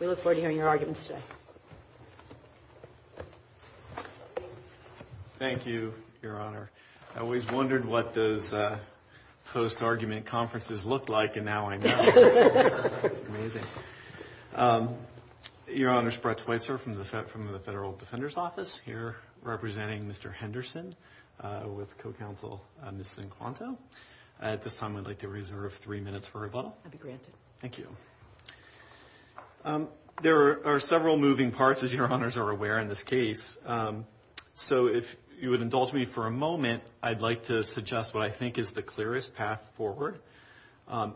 We look forward to hearing your arguments today. Thank you, Your Honor. I always wondered what those post-argument conferences looked like, and now I know. Your Honor, Sprechweitzer from the Federal Defender's Office here representing Mr. Henderson with co-counsel Ms. Zinquanto. At this time, I'd like to reserve three minutes for rebuttal. I'll be granted. Thank you. There are several moving parts, as Your Honors are aware, in this case. So if you would indulge me for a moment, I'd like to suggest what I think is the clearest path forward.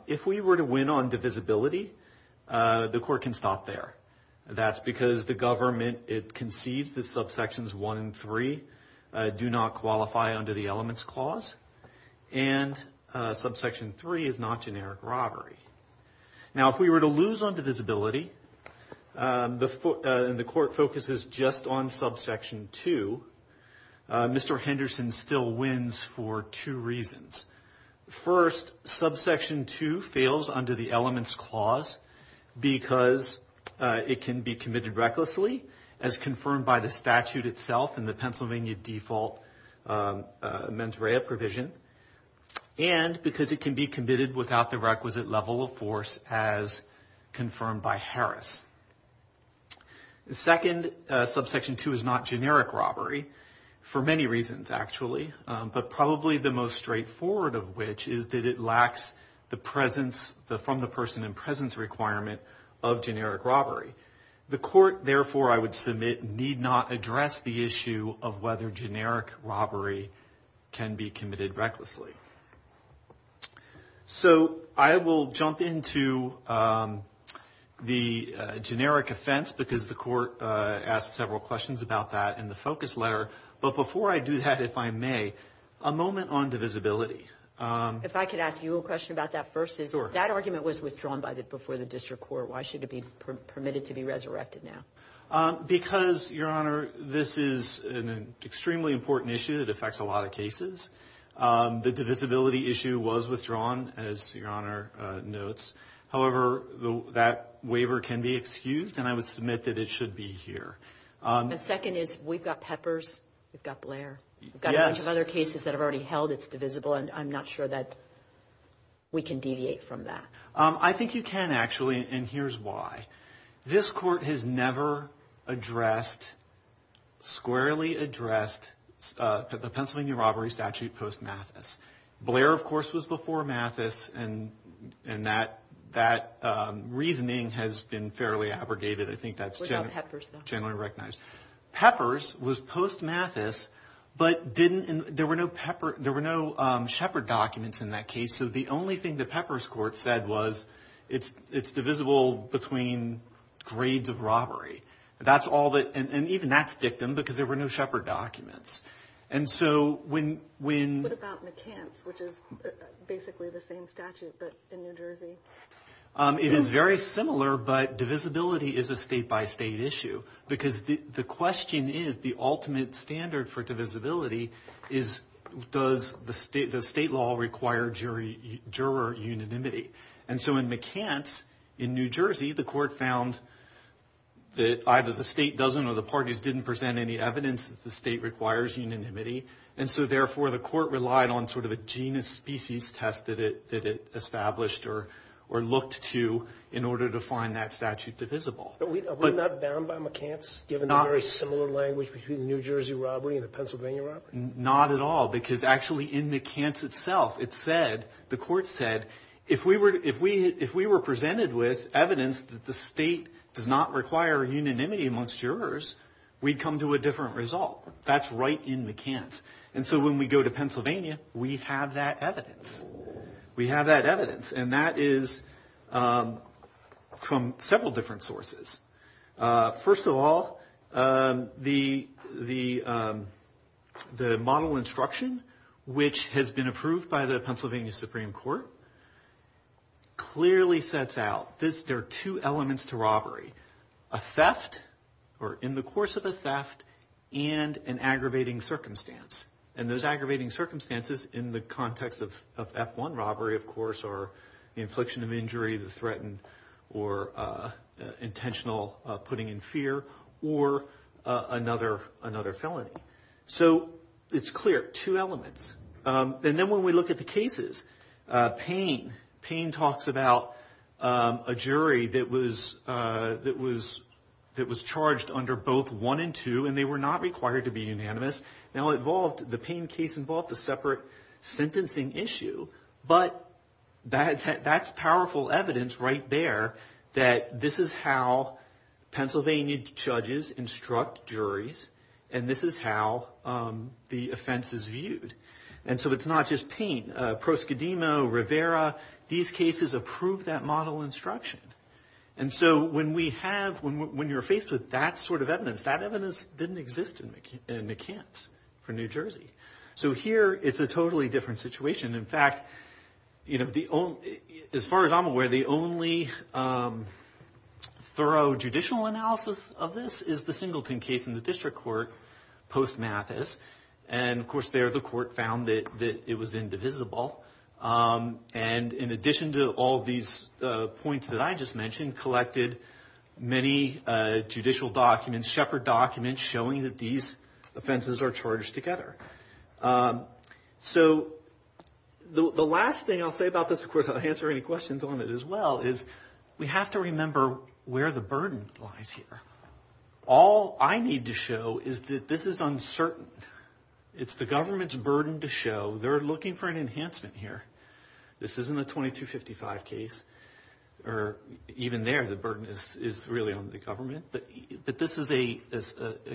If we were to win on divisibility, the court can stop there. That's because the government, it concedes that subsections one and three do not qualify under the Elements Clause, and subsection three is not generic robbery. Now, if we were to lose on divisibility, and the court focuses just on subsection two, Mr. Henderson still wins for two reasons. First, subsection two fails under the Elements Clause because it can be committed recklessly, as confirmed by the statute itself and the Pennsylvania default mens rea provision, and second, because it can be committed without the requisite level of force, as confirmed by Harris. The second subsection two is not generic robbery, for many reasons, actually, but probably the most straightforward of which is that it lacks the from the person in presence requirement of generic robbery. The court, therefore, I would submit, need not address the issue of whether generic robbery can be committed recklessly. So I will jump into the generic offense, because the court asked several questions about that in the focus letter, but before I do that, if I may, a moment on divisibility. If I could ask you a question about that first, that argument was withdrawn before the district court. Why should it be permitted to be resurrected now? Because, Your Honor, this is an extremely important issue that affects a lot of cases. The divisibility issue was withdrawn, as Your Honor notes. However, that waiver can be excused, and I would submit that it should be here. The second is, we've got Peppers, we've got Blair, we've got a bunch of other cases that have already held its divisible, and I'm not sure that we can deviate from that. I think you can, actually, and here's why. This court has never addressed, squarely addressed, the Pennsylvania robbery statute post-Mathis. Blair, of course, was before Mathis, and that reasoning has been fairly abrogated. I think that's generally recognized. What about Peppers, though? Peppers was post-Mathis, but there were no Shepherd documents in that case, so the only thing that Peppers court said was, it's divisible between grades of robbery. That's all that, and even that's dictum, because there were no Shepherd documents. And so, when... What about McCants, which is basically the same statute, but in New Jersey? It is very similar, but divisibility is a state-by-state issue, because the question is, the ultimate standard for divisibility is, does the state law require juror unanimity? And so, in McCants, in New Jersey, the court found that either the state doesn't or the parties didn't present any evidence that the state requires unanimity, and so, therefore, the court relied on sort of a genus-species test that it established or looked to in order to find that statute divisible. But we're not bound by McCants, given the very similar language between the New Jersey robbery and the Pennsylvania robbery? Not at all, because actually, in McCants itself, it said, the court said, if we were presented with evidence that the state does not require unanimity amongst jurors, we'd come to a different result. That's right in McCants, and so, when we go to Pennsylvania, we have that evidence. We have that evidence, and that is from several different sources. First of all, the model instruction, which has been approved by the Pennsylvania Supreme Court, clearly sets out, there are two elements to robbery, a theft, or in the course of a theft, and an aggravating circumstance, and those aggravating circumstances in the context of F1 robbery, of course, are the infliction of injury, the threatened, or intentional putting in fear, or another felony. So, it's clear, two elements. And then, when we look at the cases, Payne, Payne talks about a jury that was charged under both one and two, and they were not required to be unanimous. Now, it involved, the Payne case involved a separate sentencing issue, but that's powerful evidence right there that this is how Pennsylvania judges instruct juries, and this is how the offense is viewed. And so, it's not just Payne. Proscademo, Rivera, these cases approve that model instruction. And so, when we have, when you're faced with that sort of evidence, that evidence didn't exist in McCants, for New Jersey. So, here, it's a totally different situation. In fact, you know, the only, as far as I'm aware, the only thorough judicial analysis of this is the Singleton case in the district court, post Mathis, and of course, there the court found that it was indivisible. And in addition to all these points that I just mentioned, collected many judicial documents, and Shepard documents showing that these offenses are charged together. So, the last thing I'll say about this, of course, I'll answer any questions on it as well, is we have to remember where the burden lies here. All I need to show is that this is uncertain. It's the government's burden to show they're looking for an enhancement here. This isn't a 2255 case, or even there, the burden is really on the government. But this is a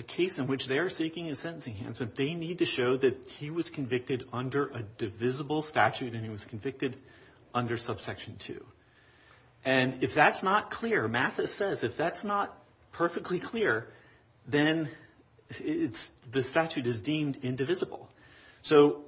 case in which they're seeking a sentencing enhancement. They need to show that he was convicted under a divisible statute, and he was convicted under subsection 2. And if that's not clear, Mathis says, if that's not perfectly clear, then the statute is deemed indivisible. So,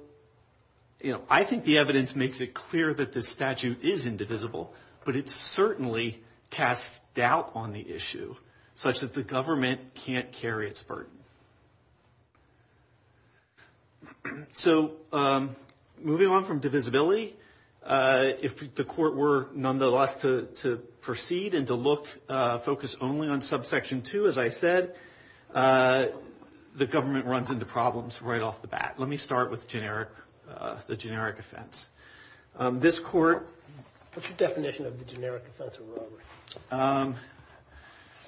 you know, I think the evidence makes it clear that this statute is indivisible, but it certainly casts doubt on the issue, such that the government can't carry its burden. So, moving on from divisibility, if the court were nonetheless to proceed and to look, focus only on subsection 2, as I said, the government runs into problems right off the bat. Let me start with the generic offense. This court... What's your definition of the generic offense of robbery?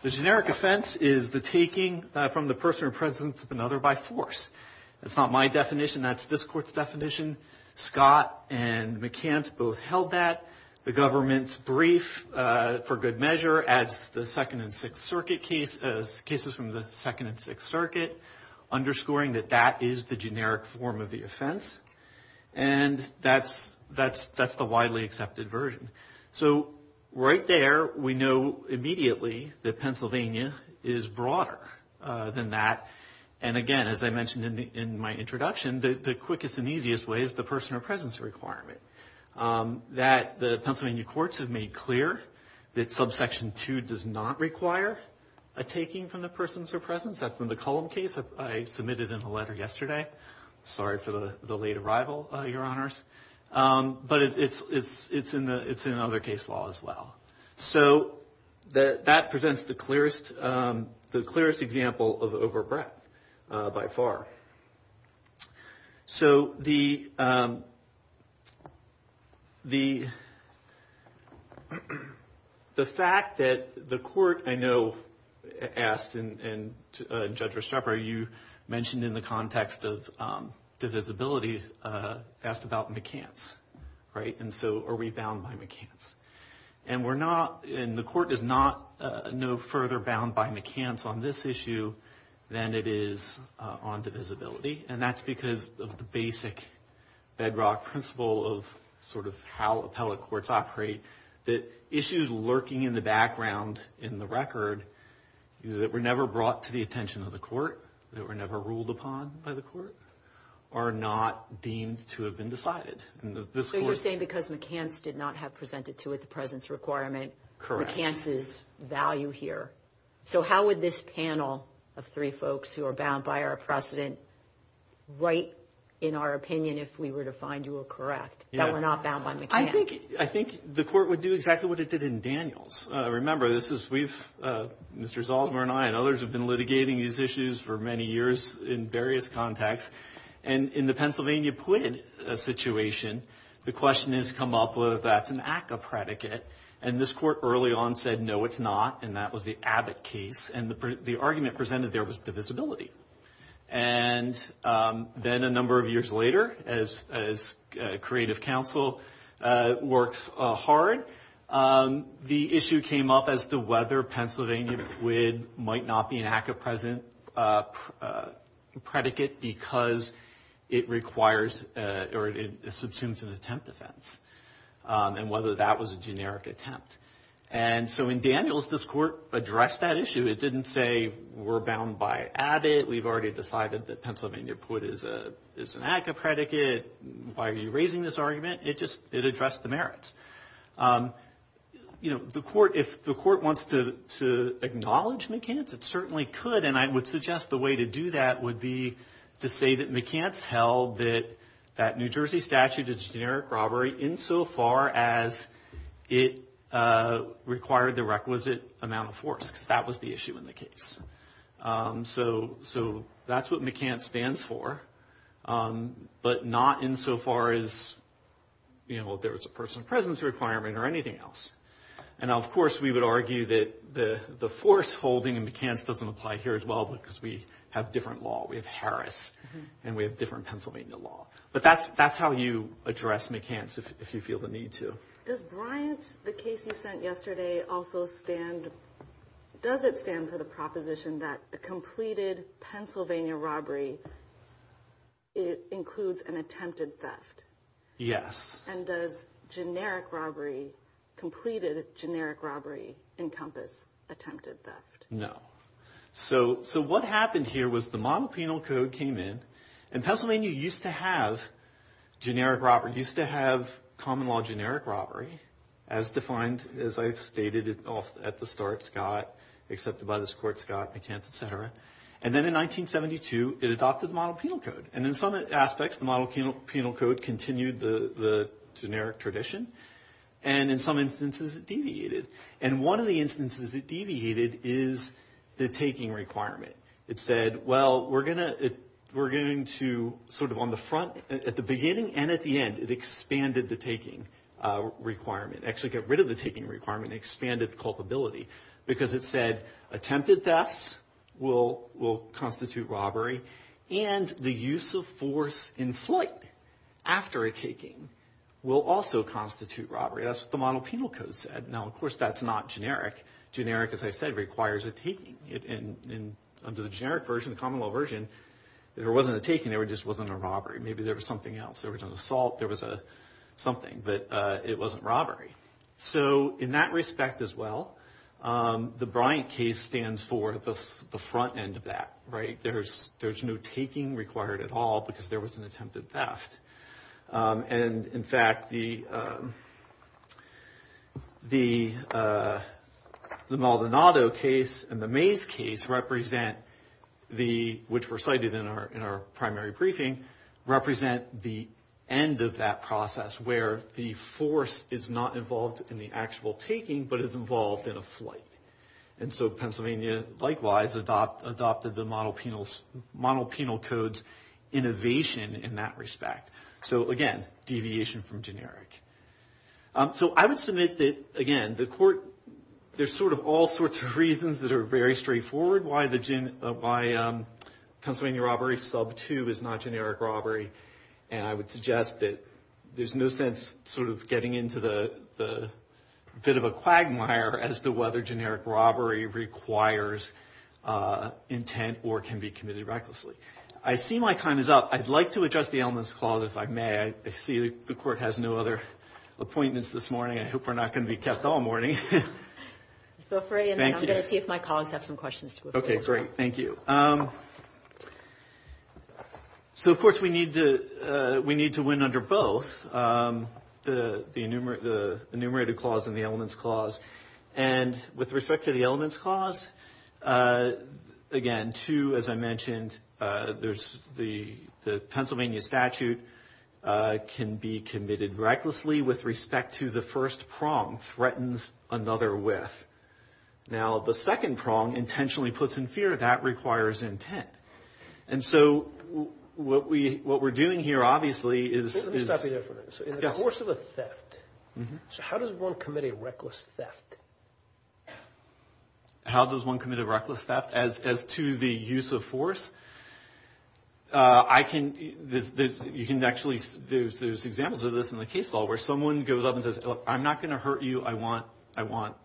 The generic offense is the taking from the person or presence of another by force. That's not my definition. That's this court's definition. Scott and McCants both held that. The government's brief, for good measure, adds the Second and Sixth Circuit cases, cases from the Second and Sixth Circuit, underscoring that that is the generic form of the offense. And that's the widely accepted version. So, right there, we know immediately that Pennsylvania is broader than that. And again, as I mentioned in my introduction, the quickest and easiest way is the person or presence requirement. That the Pennsylvania courts have made clear that subsection 2 does not require a taking from the persons or presence. That's in the Cullum case I submitted in a letter yesterday. Sorry for the late arrival, Your Honors. But it's in another case law as well. So, that presents the clearest example of overbreadth by far. So, the fact that the court, I know, asked and Judge Restrepo, you mentioned in the context of divisibility, asked about McCants, right? And so, are we bound by McCants? And we're not, and the court is not no further bound by McCants on this issue than it is on divisibility. And that's because of the basic bedrock principle of sort of how appellate courts operate. That issues lurking in the background in the record that were never brought to the attention of the court, that were never ruled upon by the court, are not deemed to have been decided. And this court... So, you're saying because McCants did not have presented to it the presence requirement, McCants' value here. So, how would this panel of three folks who are bound by our precedent write in our opinion if we were to find you were correct, that we're not bound by McCants? I think the court would do exactly what it did in Daniels. Remember, this is... Mr. Zaltzmer and I and others have been litigating these issues for many years in various contexts. And in the Pennsylvania Plyd situation, the question has come up whether that's an ACCA predicate. And this court early on said, no, it's not. And that was the Abbott case. And the argument presented there was divisibility. And then a number of years later, as creative counsel worked hard, the issue came up as to whether Pennsylvania Plyd might not be an ACCA predicate because it requires or it subsumes an attempt defense and whether that was a generic attempt. And so, in Daniels, this court addressed that issue. It didn't say we're bound by Abbott. We've already decided that Pennsylvania Plyd is an ACCA predicate. Why are you raising this argument? It just... It addressed the merits. You know, the court... If the court wants to acknowledge McCants, it certainly could. And I would suggest the way to do that would be to say that McCants held that New Jersey statute is a generic robbery insofar as it required the requisite amount of force. Because that was the issue in the case. So, that's what McCants stands for. But not insofar as there was a personal presence requirement or anything else. And of course, we would argue that the force holding in McCants doesn't apply here as well because we have different law. We have Harris and we have different Pennsylvania law. But that's how you address McCants if you feel the need to. Does Bryant, the case you sent yesterday, also stand... It includes an attempted theft? Yes. And does generic robbery, completed generic robbery, encompass attempted theft? No. So, what happened here was the model penal code came in. And Pennsylvania used to have generic robbery. It used to have common law generic robbery as defined, as I stated at the start, Scott, accepted by this court, Scott, McCants, et cetera. And then in 1972, it adopted the model penal code. And in some aspects, the model penal code continued the generic tradition. And in some instances, it deviated. And one of the instances it deviated is the taking requirement. It said, well, we're going to sort of on the front, at the beginning and at the end, it expanded the taking requirement. Actually, get rid of the taking requirement, expanded the culpability. Because it said, attempted thefts will constitute robbery. And the use of force in flight after a taking will also constitute robbery. That's what the model penal code said. Now, of course, that's not generic. Generic, as I said, requires a taking. Under the generic version, the common law version, there wasn't a taking. There just wasn't a robbery. Maybe there was something else. There was an assault. There was something. But it wasn't robbery. So, in that respect as well, the Bryant case stands for the front end of that, right? There's no taking required at all because there was an attempted theft. And in fact, the Maldonado case and the Mays case represent the, which were cited in our primary briefing, represent the end of that process where the force is not involved in the actual taking, but is involved in a flight. And so, Pennsylvania, likewise, adopted the model penal code's innovation in that respect. So, again, deviation from generic. So, I would submit that, again, the court, there's sort of all sorts of reasons that are very straightforward why Pennsylvania robbery sub two is not generic robbery. And I would suggest that there's no sense sort of getting into the bit of a quagmire as to whether generic robbery requires intent or can be committed recklessly. I see my time is up. I'd like to adjust the elements clause, if I may. I see the court has no other appointments this morning. I hope we're not going to be kept all morning. Feel free. And I'm going to see if my colleagues have some questions. Okay, great. Thank you. So, of course, we need to win under both, the enumerated clause and the elements clause. And with respect to the elements clause, again, two, as I mentioned, there's the Pennsylvania statute can be committed recklessly with respect to the first prong threatens another with. Now, the second prong intentionally puts in fear that requires intent. And so, what we're doing here, obviously, is... Let me stop you there for a minute. In the course of a theft, so how does one commit a reckless theft? How does one commit a reckless theft? As to the use of force, I can... You can actually... There's examples of this in the case law where someone goes up and says, I'm not going to hurt you. I want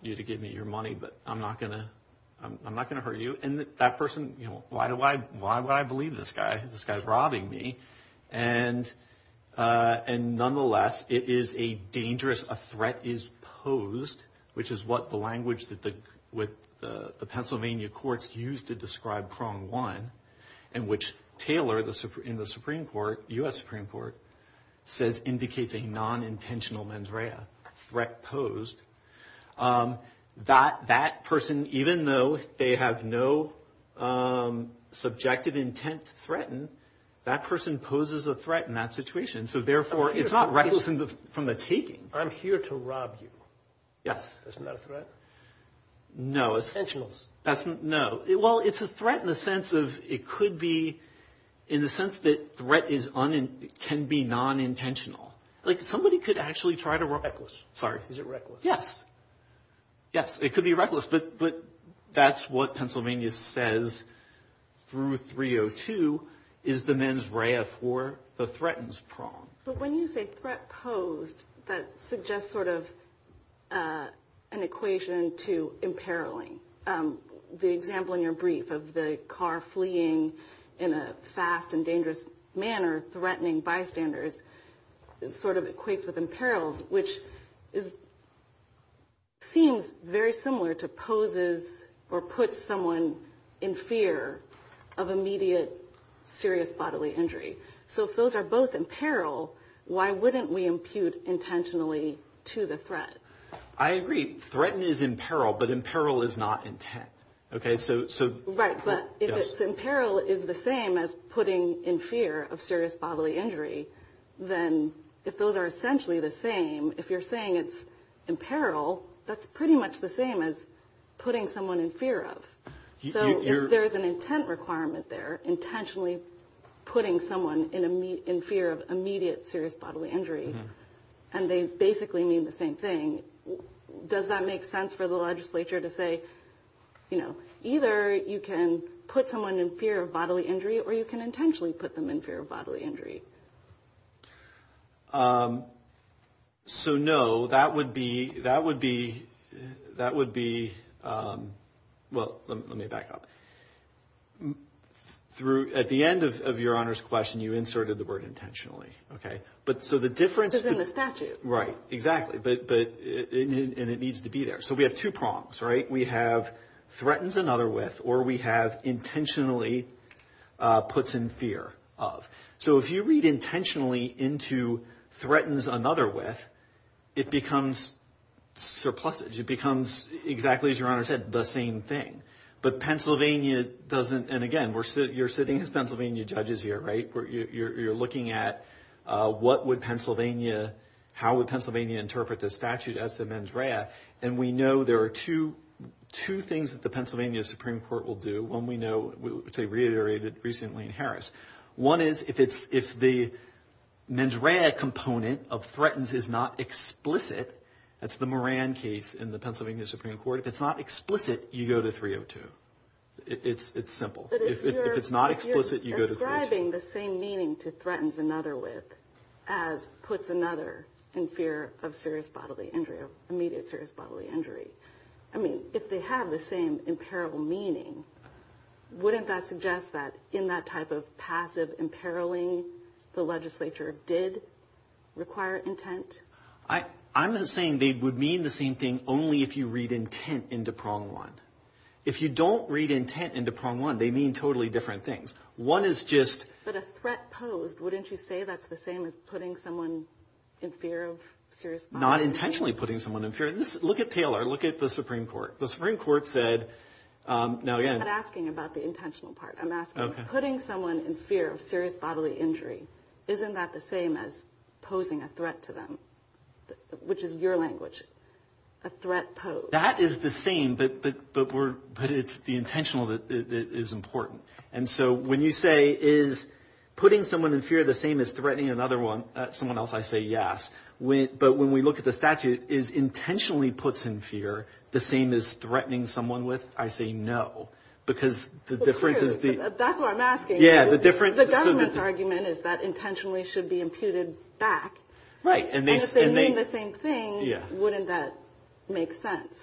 you to give me your money, but I'm not going to hurt you. And that person, why would I believe this guy? This guy's robbing me. And nonetheless, it is a dangerous threat is posed, which is what the language that the Pennsylvania courts used to describe prong one, and which Taylor, in the Supreme Court, U.S. Supreme Court, says indicates a non-intentional mandrea, threat posed. That person, even though they have no subjective intent to threaten, that person poses a threat in that situation. So therefore, it's not reckless from the taking. I'm here to rob you. Yes. Isn't that a threat? No, it's... Intentionals. That's... No. Well, it's a threat in the sense of it could be... In the sense that threat is un... Can be non-intentional. Like somebody could actually try to rob... Reckless. Sorry. Is it reckless? Yes. Yes, it could be reckless, but that's what Pennsylvania says through 302 is the mens rea for the threatens prong. But when you say threat posed, that suggests sort of an equation to imperiling. The example in your brief of the car fleeing in a fast and dangerous manner, threatening bystanders, sort of equates with imperils, which is... Seems very similar to poses or put someone in fear of immediate serious bodily injury. So if those are both imperil, why wouldn't we impute intentionally to the threat? I agree. Threaten is imperil, but imperil is not intent. Okay, so... Right, but if imperil is the same as putting in fear of serious bodily injury, then if those are essentially the same, if you're saying it's imperil, that's pretty much the same as putting someone in fear of. So there's an intent requirement there, intentionally putting someone in fear of immediate serious bodily injury, and they basically mean the same thing. Does that make sense for the legislature to say, you know, either you can put someone in fear of bodily injury or you can intentionally put them in fear of bodily injury? So no, that would be... That would be... Well, let me back up. At the end of your Honor's question, you inserted the word intentionally. Okay, but so the difference... Because in the statute. Right, exactly, and it needs to be there. So we have two prongs, right? We have threatens another with, or we have intentionally puts in fear of. So if you read intentionally into threatens another with, it becomes surpluses. It becomes, exactly as your Honor said, the same thing. But Pennsylvania doesn't... And again, you're sitting as Pennsylvania judges here, right? You're looking at what would Pennsylvania... How would Pennsylvania interpret this statute as the mens rea? And we know there are two things that the Pennsylvania Supreme Court will do when we know, which they reiterated recently in Harris. One is if the mens rea component of threatens is not explicit, that's the Moran case in the Pennsylvania Supreme Court. If it's not explicit, you go to 302. It's simple. But if you're... If it's not explicit, you go to 302. But if you're describing the same meaning to threatens another with as puts another in fear of serious bodily injury, of immediate serious bodily injury, I mean, if they have the same imperil meaning, wouldn't that suggest that in that type of passive imperiling, the legislature did require intent? I'm not saying they would mean the same thing only if you read intent into prong one. If you don't read intent into prong one, they mean totally different things. One is just... But a threat posed, wouldn't you say that's the same as putting someone in fear of serious bodily injury? Not intentionally putting someone in fear. Look at Taylor. Look at the Supreme Court. The Supreme Court said... I'm not asking about the intentional part. I'm asking, putting someone in fear of serious bodily injury, isn't that the same as posing a threat to them? Which is your language. A threat posed. That is the same, but it's the intentional that is important. And so when you say, is putting someone in fear the same as threatening another one? Someone else, I say, yes. But when we look at the statute, is intentionally puts in fear the same as threatening someone with? I say, no. Because the difference is... That's what I'm asking. Yeah, the difference... The government's argument is that intentionally should be imputed back. Right. And if they mean the same thing, wouldn't that make sense?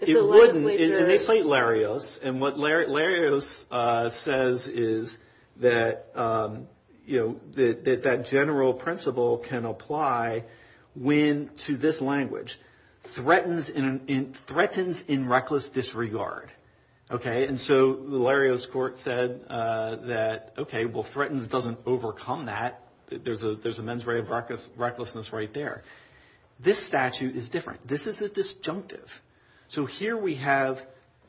It wouldn't. And they cite Larios. And what Larios says is that that general principle can apply when, to this language, threatens in reckless disregard. Okay. And so the Larios court said that, okay, well, threatens doesn't overcome that. There's a mens rea of recklessness right there. This statute is different. This is a disjunctive. So here we have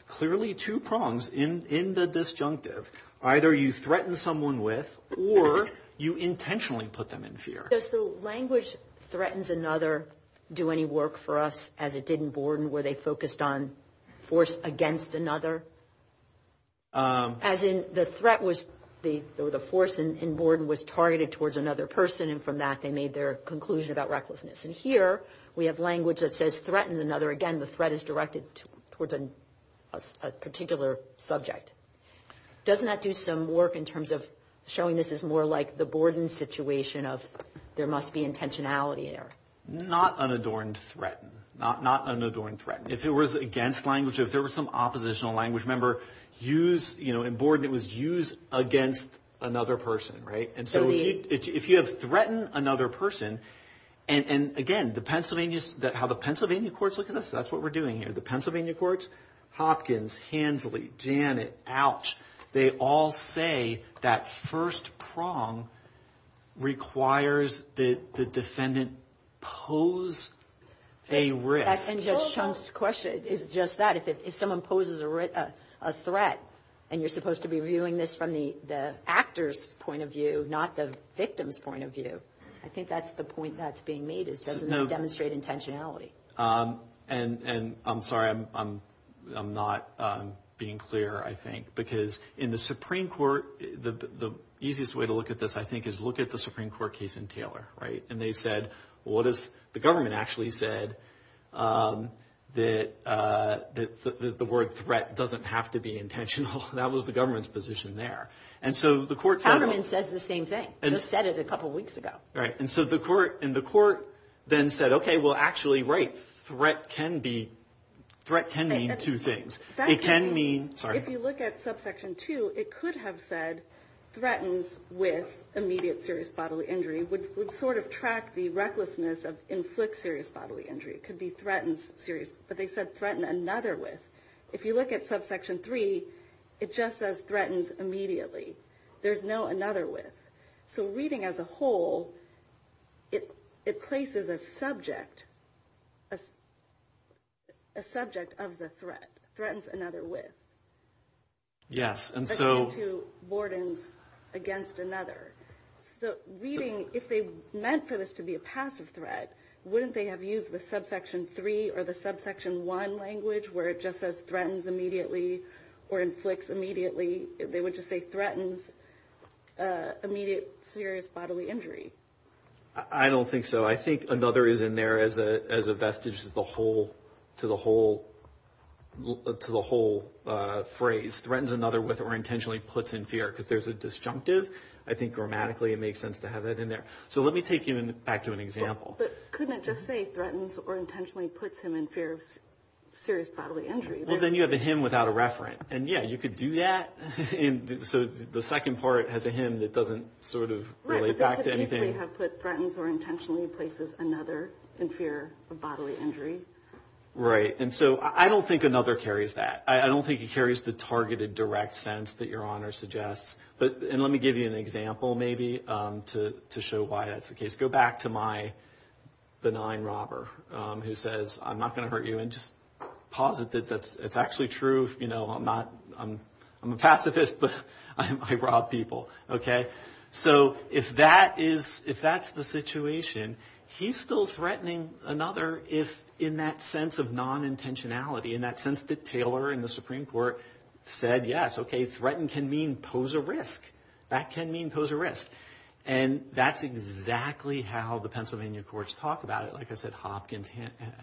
clearly two prongs in the disjunctive. Either you threaten someone with, or you intentionally put them in fear. Does the language threatens another do any work for us as it did in Borden, where they focused on force against another? As in, the threat was, or the force in Borden was targeted towards another person. And from that, they made their conclusion about recklessness. And here we have language that says threatened another. Again, the threat is directed towards a particular subject. Doesn't that do some work in terms of showing this is more like the Borden situation of there must be intentionality there? Not unadorned threatened. Not unadorned threatened. If it was against language, if there was some oppositional language, remember, in Borden, it was used against another person, right? And so if you have threatened another person, and again, the Pennsylvania, how the Pennsylvania courts look at this, that's what we're doing here. The Pennsylvania courts, Hopkins, Hansley, Janet, Ouch. They all say that first prong requires that the defendant pose a risk. And Judge Chung's question is just that, if someone poses a threat, and you're supposed to be viewing this from the actor's point of view, not the victim's point of view. I think that's the point that's being made. It doesn't demonstrate intentionality. And I'm sorry, I'm not being clear, I think. Because in the Supreme Court, the easiest way to look at this, I think, is look at the Supreme Court case in Taylor, right? And they said, well, the government actually said that the word threat doesn't have to be intentional. That was the government's position there. And so the court said- The government says the same thing. Just said it a couple of weeks ago. Right. And so the court then said, okay, well, actually, right, threat can mean two things. It can mean, sorry. If you look at subsection two, it could have said, threatens with immediate serious bodily injury, which would sort of track the recklessness of inflict serious bodily injury. It could be threatens serious. But they said threaten another with. If you look at subsection three, it just says threatens immediately. There's no another with. So reading as a whole, it places a subject of the threat. Threatens another with. Yes, and so- Against another. So reading, if they meant for this to be a passive threat, wouldn't they have used the subsection three or the subsection one language where it just says threatens immediately or inflicts immediately? They would just say threatens immediate serious bodily injury. I don't think so. I think another is in there as a vestige to the whole phrase. Threatens another with or intentionally puts in fear because there's a disjunctive. I think grammatically, it makes sense to have that in there. So let me take you back to an example. But couldn't it just say threatens or intentionally puts him in fear of serious bodily injury? Well, then you have a hymn without a referent. And yeah, you could do that. So the second part has a hymn that doesn't sort of relate back to anything. But threatens or intentionally places another in fear of bodily injury. Right. And so I don't think another carries that. I don't think it carries the targeted direct sense that Your Honor suggests. But and let me give you an example maybe to show why that's the case. Go back to my benign robber who says, I'm not going to hurt you. And just posit that it's actually true. You know, I'm a pacifist, but I rob people. OK, so if that's the situation, he's still threatening another if in that sense of non-intentionality, in that sense that Taylor in the Supreme Court said, yes, OK, threatened can mean pose a risk. That can mean pose a risk. And that's exactly how the Pennsylvania courts talk about it. Like I said, Hopkins,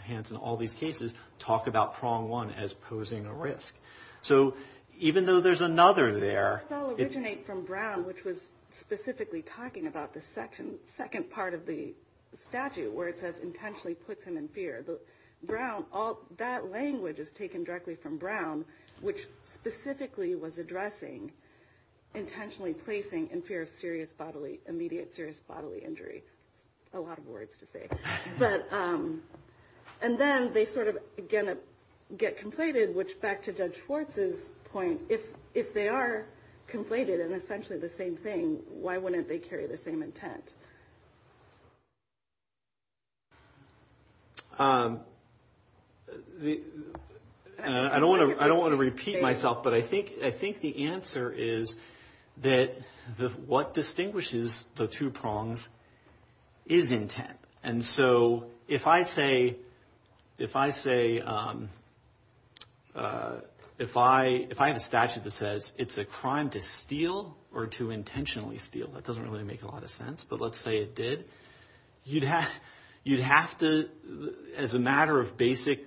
Hanson, all these cases talk about prong one as posing a risk. So even though there's another there. It does all originate from Brown, which was specifically talking about the second part of the statute where it says intentionally puts him in fear. Brown, all that language is taken directly from Brown, which specifically was addressing intentionally placing in fear of serious bodily, immediate serious bodily injury. A lot of words to say. And then they sort of get conflated, which back to Judge Schwartz's point, if they are conflated and essentially the same thing, why wouldn't they carry the same intent? And I don't want to I don't want to repeat myself, but I think I think the answer is that what distinguishes the two prongs is intent. And so if I say if I say if I if I have a statute that says it's a crime to steal or to intentionally steal, that doesn't really make a lot of sense. But let's say it did. You'd have you'd have to as a matter of basic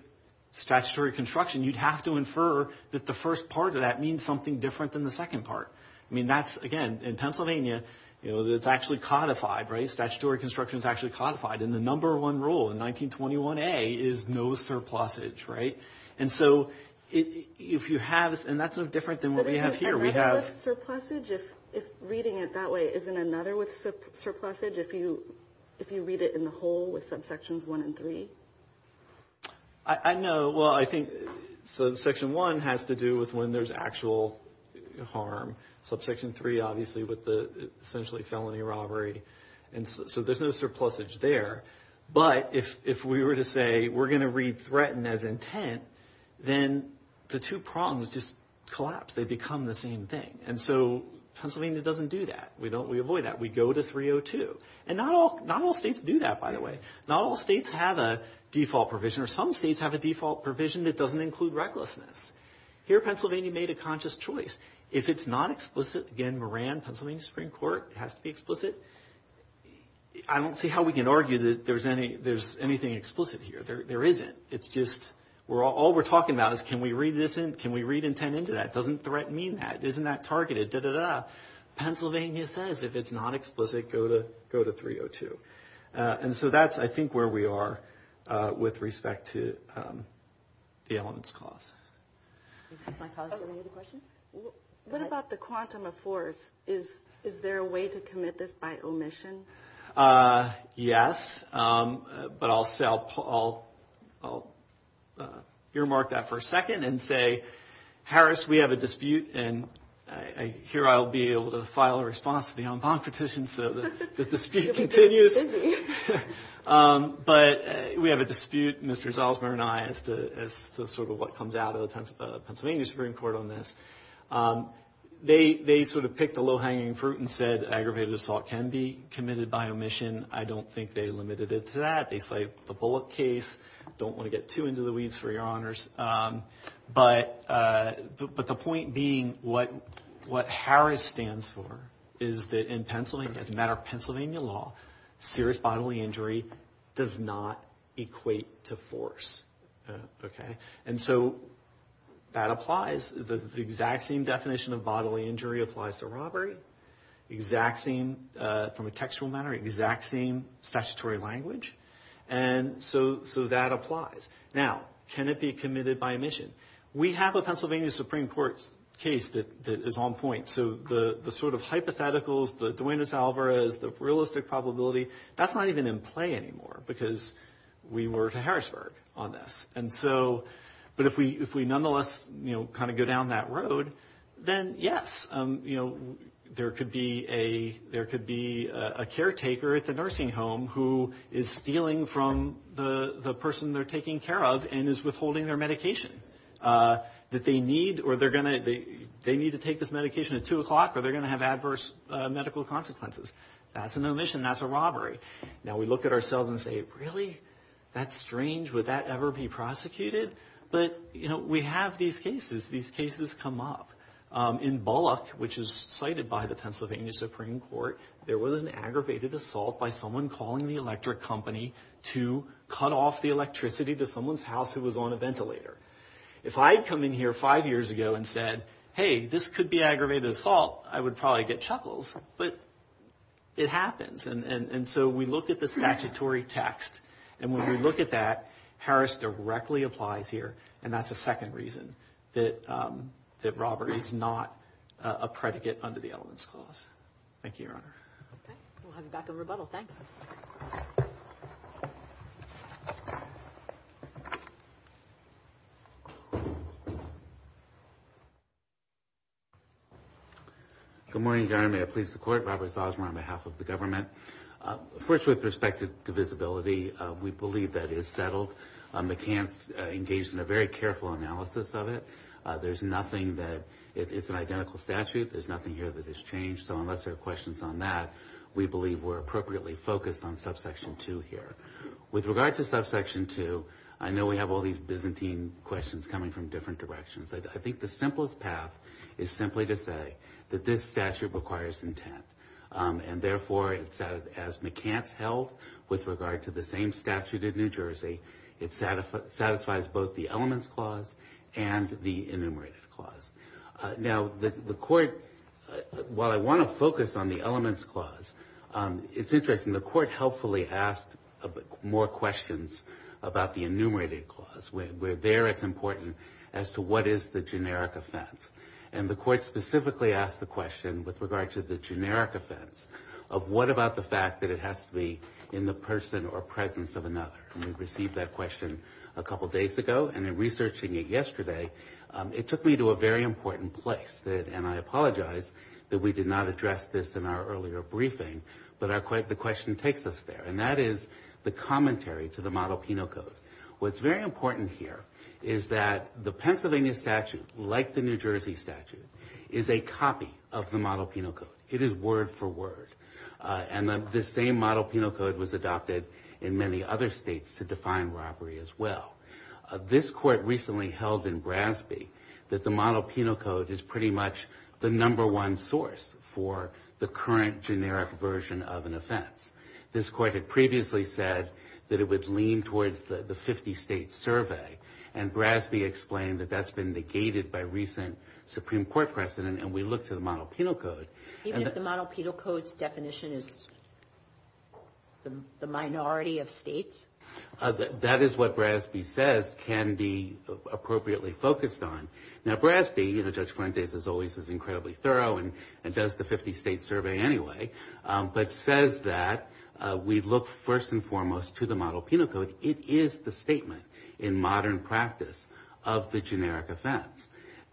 statutory construction, you'd have to infer that the first part of that means something different than the second part. I mean, that's again, in Pennsylvania, you know, that's actually codified, right? Statutory construction is actually codified in the number one rule in 1921. A is no surplus age. Right. And so if you have and that's no different than what we have here. Surplus age, if reading it that way, isn't another with surplus age, if you if you read it in the whole with subsections one and three? I know. Well, I think subsection one has to do with when there's actual harm. Subsection three, obviously, with the essentially felony robbery. And so there's no surplus age there. But if we were to say we're going to read threatened as intent, then the two prongs just collapse. They become the same thing. And so Pennsylvania doesn't do that. We don't we avoid that. We go to 302. And not all not all states do that, by the way. Not all states have a default provision or some states have a default provision that doesn't include recklessness. Here, Pennsylvania made a conscious choice. If it's not explicit, again, Moran, Pennsylvania Supreme Court has to be explicit. I don't see how we can argue that there's any there's anything explicit here. There isn't. It's just we're all we're talking about is can we read this in? Can we read intent into that? Doesn't threat mean that? Isn't that targeted? Pennsylvania says if it's not explicit, go to go to 302. And so that's, I think, where we are with respect to the elements clause. Any other questions? What about the quantum of force? Is is there a way to commit this by omission? Yes, but I'll say I'll earmark that for a second and say, Harris, we have a dispute. And I hear I'll be able to file a response to the en banc petition. So the dispute continues. But we have a dispute, Mr. Salzman and I, as to sort of what comes out of the Pennsylvania Supreme Court on this. They sort of picked a low hanging fruit and said aggravated assault can be committed by omission. I don't think they limited it to that. They cite the Bullock case. Don't want to get too into the weeds, for your honors. But but the point being, what what Harris stands for is that in Pennsylvania, as a matter of Pennsylvania law, serious bodily injury does not equate to force. OK, and so that applies. The exact same definition of bodily injury applies to robbery. Exact same from a textual matter, exact same statutory language. And so so that applies. Now, can it be committed by omission? We have a Pennsylvania Supreme Court case that is on point. So the sort of hypotheticals, the Duenas Alvarez, the realistic probability, that's not even in play anymore because we were to Harrisburg on this. And so but if we if we nonetheless, you know, kind of go down that road, then yes, you know, there could be a there could be a caretaker at the nursing home who is stealing from the person they're taking care of and is withholding their medication that they need or they're going to they need to take this medication at two o'clock or they're going to have adverse medical consequences. That's an omission. That's a robbery. Now, we look at ourselves and say, really, that's strange. Would that ever be prosecuted? But, you know, we have these cases, these cases come up in Bullock, which is cited by the Pennsylvania Supreme Court. There was an aggravated assault by someone calling the electric company to cut off the electricity to someone's house who was on a ventilator. If I had come in here five years ago and said, hey, this could be aggravated assault, I would probably get chuckles. But it happens. And so we look at the statutory text. And when we look at that, Harris directly applies here. And that's a second reason that that robbery is not a predicate under the Elements Clause. Thank you, Your Honor. Okay. We'll have you back in rebuttal. Thanks. Good morning, Your Honor. May I please the court. Robert Salzman on behalf of the government. First, with respect to divisibility, we believe that is settled. McCants engaged in a very careful analysis of it. There's nothing that it's an identical statute. There's nothing here that has changed. Unless there are questions on that, we believe we're appropriately focused on subsection 2 here. With regard to subsection 2, I know we have all these Byzantine questions coming from different directions. I think the simplest path is simply to say that this statute requires intent. And therefore, as McCants held with regard to the same statute in New Jersey, it satisfies both the Elements Clause and the Enumerated Clause. Now, the court, while I want to focus on the Elements Clause, it's interesting. The court helpfully asked more questions about the Enumerated Clause, where there it's important as to what is the generic offense. And the court specifically asked the question with regard to the generic offense of what about the fact that it has to be in the person or presence of another. And we received that question a couple days ago. And in researching it yesterday, it took me to a very important place. And I apologize that we did not address this in our earlier briefing. But the question takes us there. And that is the commentary to the Model Penal Code. What's very important here is that the Pennsylvania statute, like the New Jersey statute, is a copy of the Model Penal Code. It is word for word. And the same Model Penal Code was adopted in many other states to define robbery as well. This court recently held in Brasby that the Model Penal Code is pretty much the number one source for the current generic version of an offense. This court had previously said that it would lean towards the 50-state survey. And Brasby explained that that's been negated by recent Supreme Court precedent. And we look to the Model Penal Code. Even if the Model Penal Code's definition is the minority of states? That is what Brasby says can be appropriately focused on. Now, Brasby, Judge Fuentes, as always, is incredibly thorough and does the 50-state survey anyway, but says that we look first and foremost to the Model Penal Code. It is the statement in modern practice of the generic offense.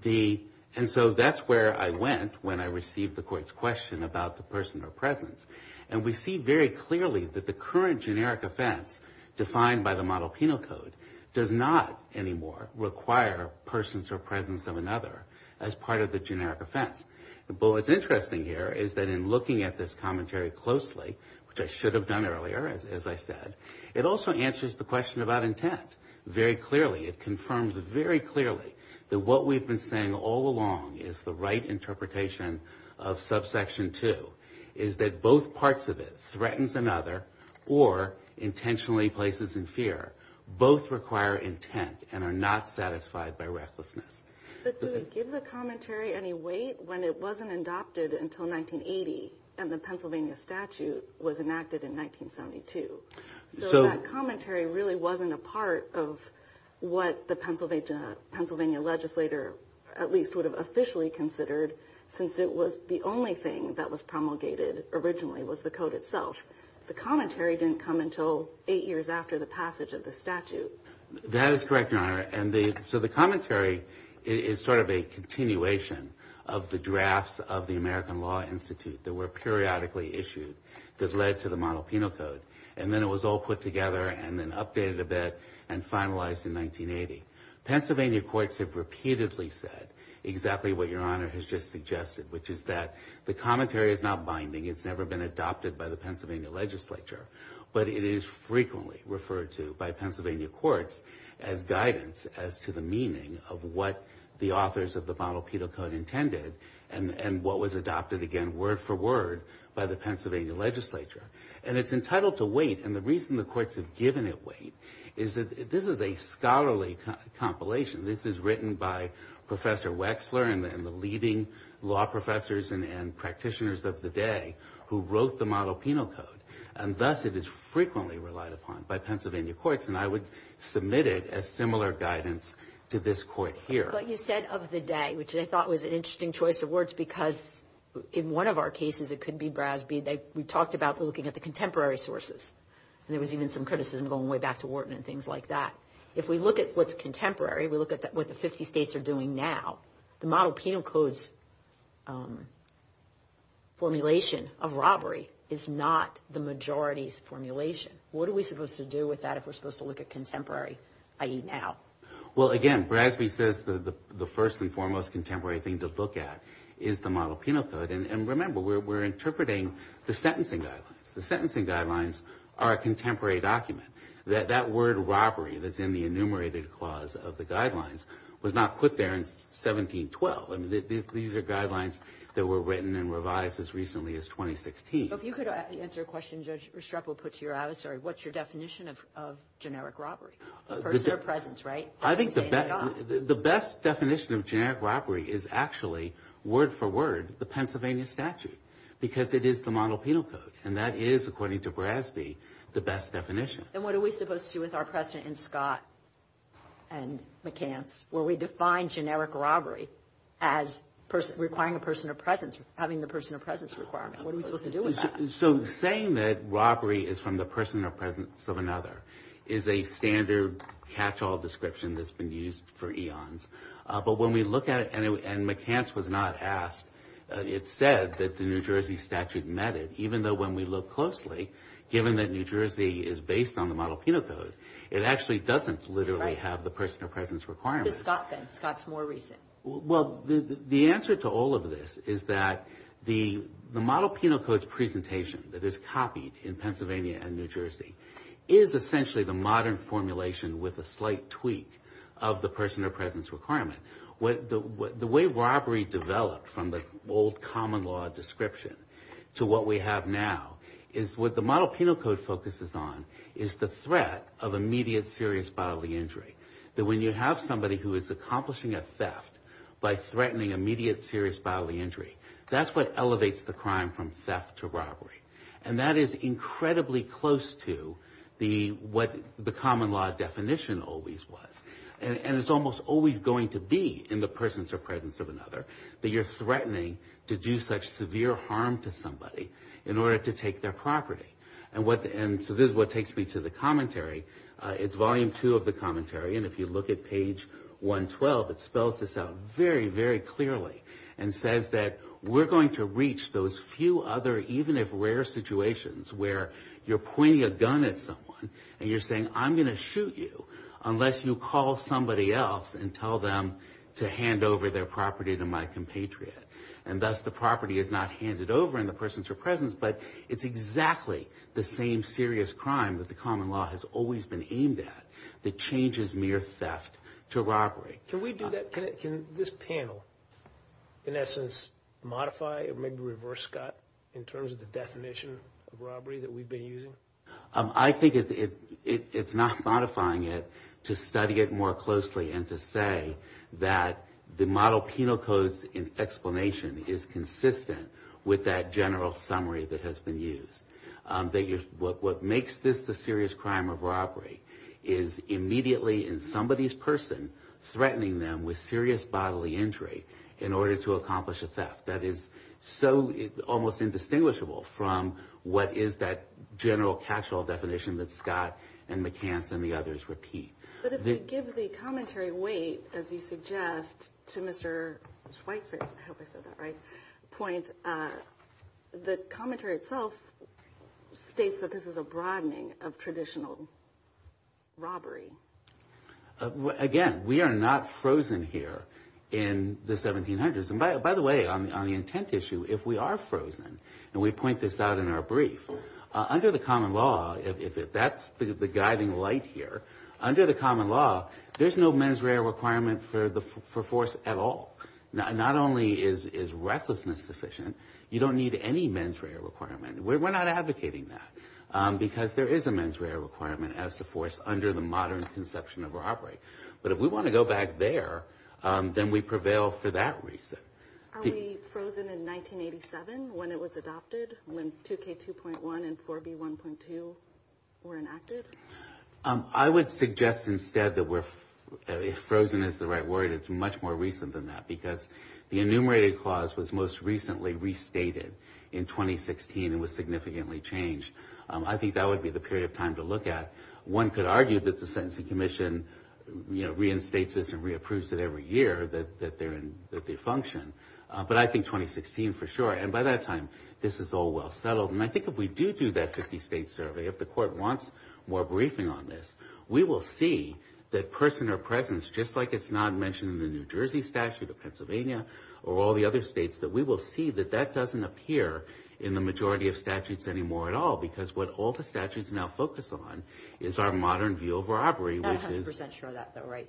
And so that's where I went when I received the court's question about the personal presence. And we see very clearly that the current generic offense defined by the Model Penal Code does not anymore require persons or presence of another as part of the generic offense. But what's interesting here is that in looking at this commentary closely, which I should have done earlier, as I said, it also answers the question about intent very clearly. It confirms very clearly that what we've been saying all along is the right parts of it threatens another or intentionally places in fear. Both require intent and are not satisfied by recklessness. But do we give the commentary any weight when it wasn't adopted until 1980 and the Pennsylvania statute was enacted in 1972? So that commentary really wasn't a part of what the Pennsylvania legislator at least would have officially considered since it was the only thing that was promulgated originally was the code itself. The commentary didn't come until eight years after the passage of the statute. That is correct, Your Honor. And so the commentary is sort of a continuation of the drafts of the American Law Institute that were periodically issued that led to the Model Penal Code. And then it was all put together and then updated a bit and finalized in 1980. Pennsylvania courts have repeatedly said exactly what Your Honor has just suggested, which is that the commentary is not binding. It's never been adopted by the Pennsylvania legislature. But it is frequently referred to by Pennsylvania courts as guidance as to the meaning of what the authors of the Model Penal Code intended and what was adopted again word for word by the Pennsylvania legislature. And it's entitled to weight. And the reason the courts have given it weight is that this is a scholarly compilation. This is written by Professor Wexler and the leading law professors and practitioners of the day who wrote the Model Penal Code. And thus, it is frequently relied upon by Pennsylvania courts. And I would submit it as similar guidance to this court here. But you said of the day, which I thought was an interesting choice of words, because in one of our cases, it could be Brasby. We talked about looking at the contemporary sources. And there was even some criticism going way back to Wharton and things like that. If we look at what's contemporary, we look at what the 50 states are doing now, the Model Penal Code formulation of robbery is not the majority's formulation. What are we supposed to do with that if we're supposed to look at contemporary, i.e. now? Well, again, Brasby says the first and foremost contemporary thing to look at is the Model Penal Code. And remember, we're interpreting the sentencing guidelines. The sentencing guidelines are a contemporary document. That word robbery that's in the enumerated clause of the guidelines was not put there in 1712. These are guidelines that were written and revised as recently as 2016. If you could answer a question Judge Restrepo put to your adversary, what's your definition of generic robbery? A person or presence, right? I think the best definition of generic robbery is actually, word for word, the Pennsylvania statute, because it is the Model Penal Code. And that is, according to Brasby, the best definition. And what are we supposed to do with our precedent in Scott and McCance, where we define generic robbery as requiring a person or presence, having the person or presence requirement? What are we supposed to do with that? So saying that robbery is from the person or presence of another is a standard catch-all description that's been used for eons. But when we look at it, and McCance was not asked, it said that the New Jersey statute met it, even though when we look closely, given that New Jersey is based on the Model Penal Code, it actually doesn't literally have the person or presence requirement. Where's Scott then? Scott's more recent. Well, the answer to all of this is that the Model Penal Code's presentation that is copied in Pennsylvania and New Jersey is essentially the modern formulation with a slight tweak of the person or presence requirement. The way robbery developed from the old common law description to what we have now is what the Model Penal Code focuses on is the threat of immediate serious bodily injury. That when you have somebody who is accomplishing a theft by threatening immediate serious bodily injury, that's what elevates the crime from theft to robbery. And that is incredibly close to what the common law definition always was. And it's almost always going to be in the persons or presence of another that you're threatening to do such severe harm to somebody in order to take their property. And so this is what takes me to the commentary. It's volume two of the commentary. And if you look at page 112, it spells this out very, very clearly and says that we're going to reach those few other, even if rare, situations where you're pointing a gun at someone and you're saying, I'm going to shoot you unless you call somebody else and tell them to hand over their property to my compatriot. And thus the property is not handed over in the persons or presence, but it's exactly the same serious crime that the common law has always been aimed at that changes mere theft to robbery. Can we do that? Can this panel, in essence, modify or maybe reverse, Scott, in terms of the definition of robbery that we've been using? I think it's not modifying it to study it more closely and to say that the Model Penal Code's explanation is consistent with that general summary that has been used. What makes this the serious crime of robbery is immediately in somebody's person threatening them with serious bodily injury in order to accomplish a theft. That is so almost indistinguishable from what is that general catch-all definition that Scott and McCants and the others repeat. But if you give the commentary weight, as you suggest, to Mr. Schweitzer's point, the commentary itself states that this is a broadening of traditional robbery. Again, we are not frozen here in the 1700s. By the way, on the intent issue, if we are frozen, and we point this out in our brief, under the common law, if that's the guiding light here, under the common law, there's no mens rea requirement for force at all. Not only is recklessness sufficient, you don't need any mens rea requirement. We're not advocating that because there is a mens rea requirement as to force under the modern conception of robbery. But if we want to go back there, then we prevail for that reason. Are we frozen in 1987 when it was adopted? When 2K2.1 and 4B1.2 were enacted? I would suggest instead that if frozen is the right word, it's much more recent than that because the enumerated clause was most recently restated in 2016 and was significantly changed. I think that would be the period of time to look at. One could argue that the Sentencing Commission reinstates this and re-approves it every year that they function. But I think 2016 for sure. And by that time, this is all well settled. And I think if we do do that 50-state survey, if the court wants more briefing on this, we will see that person or presence, just like it's not mentioned in the New Jersey statute of Pennsylvania or all the other states, that we will see that that doesn't appear in the majority of statutes anymore at all. Because what all the statutes now focus on is our modern view of robbery. I'm not 100% sure of that though, right?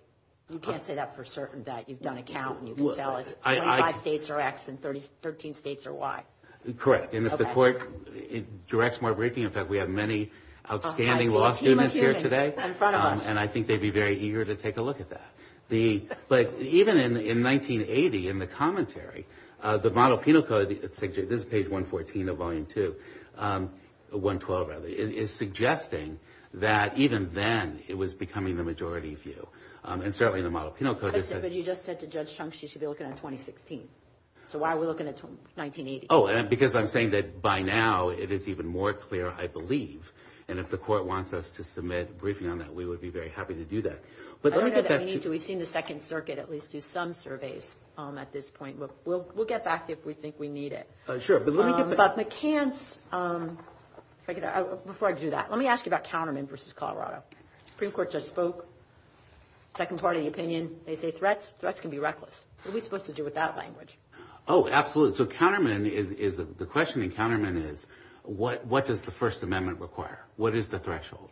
You can't say that for certain. You've done a count and you can tell us 25 states are X and 13 states are Y. Correct. And if the court directs more briefing, in fact, we have many outstanding law students here today. A team of humans in front of us. And I think they'd be very eager to take a look at that. But even in 1980, in the commentary, the model penal code, this is page 114 of volume 2, 112 rather, is suggesting that even then, it was becoming the majority view. And certainly in the model penal code. But you just said to Judge Chunks, she should be looking at 2016. So why are we looking at 1980? Oh, because I'm saying that by now, it is even more clear, I believe. And if the court wants us to submit a briefing on that, we would be very happy to do that. But let me get back to- We've seen the Second Circuit at least do some surveys at this point. We'll get back if we think we need it. Sure. But let me get back to McCants. Before I do that, let me ask you about Counterman versus Colorado. Supreme Court just spoke. Second part of the opinion, they say threats. Threats can be reckless. What are we supposed to do with that language? Oh, absolutely. So the question in Counterman is, what does the First Amendment require? What is the threshold?